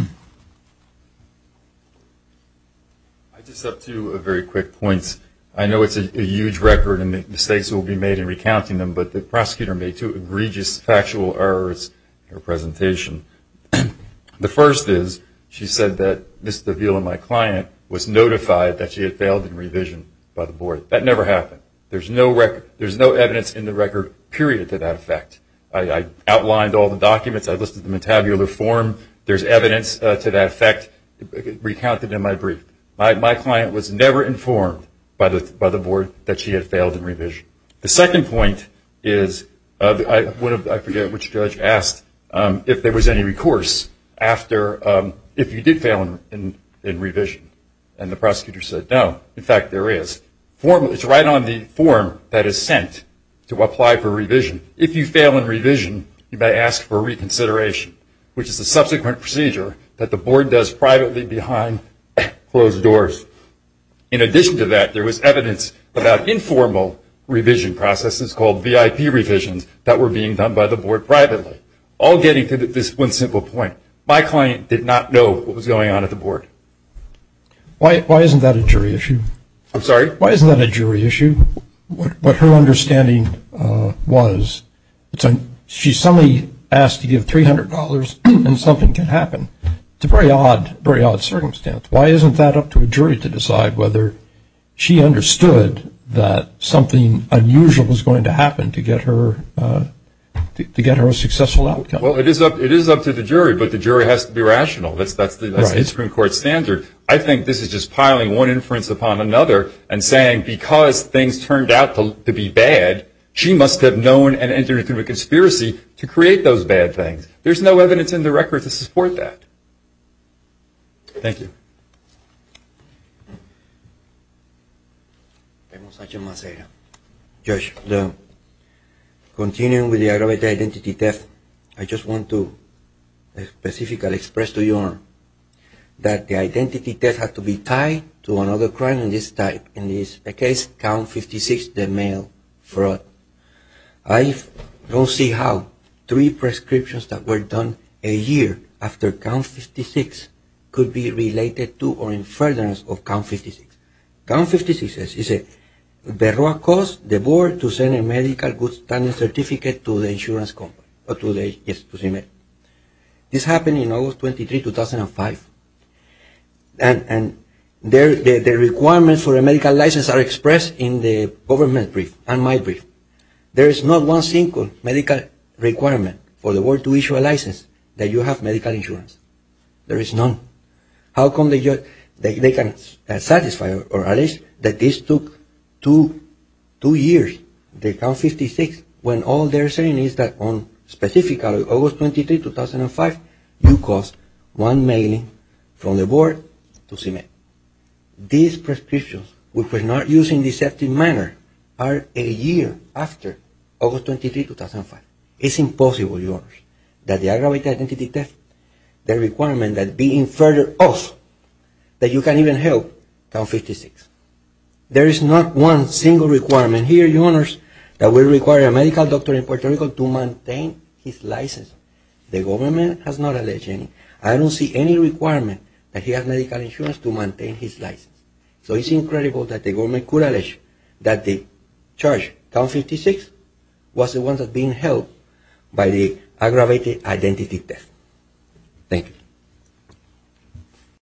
just have to do a very quick point. I know it's a huge record and mistakes will be made but the prosecutor made two egregious factual errors in her presentation. The first is, she said that Mr. Veal and my client was notified that she had failed in revision by the board. That never happened. There's no record. There's no evidence in the record, period, to that effect. I outlined all the documents. I listed them in tabular form. There's evidence to that effect recounted in my brief. My client was never informed by the board that she had failed in revision. The second point is, I forget which judge asked if there was any recourse after, if you did fail in revision. The prosecutor said, no, in fact, there is. It's right on the form that is sent to apply for revision. If you fail in revision, you may ask for reconsideration, which is a subsequent procedure that the board does informal revision processes called VIP revisions that were being done by the board privately. All getting to this one simple point. My client did not know what was going on at the board. Why isn't that a jury issue? I'm sorry? Why isn't that a jury issue? What her understanding was, she suddenly asked to give $300 and something can happen. It's a very odd circumstance. Why isn't that up to a jury to she understood that something unusual was going to happen to get her a successful outcome. Well, it is up to the jury, but the jury has to be rational. That's the Supreme Court standard. I think this is just piling one inference upon another and saying, because things turned out to be bad, she must have known and entered into a conspiracy to create those bad things. There's no evidence in the record to support that. Thank you. We have H.M. Monserrat. Judge, continuing with the aggravated identity test, I just want to specifically express to you that the identity test has to be tied to another crime of this type. In this case, Count 56, the male fraud. I don't see how three prescriptions that were done a year after Count 56 could be furtherance of Count 56. Count 56 is the cost the board to send a medical goods patent certificate to the insurance company. This happened in August 23, 2005. The requirements for a medical license are expressed in the government brief and my brief. There is not one single medical requirement for the board to issue a license that you have medical insurance. There is none. How come they can satisfy or allege that this took two years, the Count 56, when all they're saying is that on, specifically, August 23, 2005, you cost one million from the board to submit. These prescriptions, which were not used in a deceptive manner, are a year after August 23, 2005. It's impossible, Your Honors, that the aggravated identity test, the requirement that being further off that you can't even help Count 56. There is not one single requirement here, Your Honors, that we require a medical doctor in Puerto Rico to maintain his license. The government has not alleged any. I don't see any requirement that he has medical insurance to maintain his license. So it's incredible that the identity test. Thank you.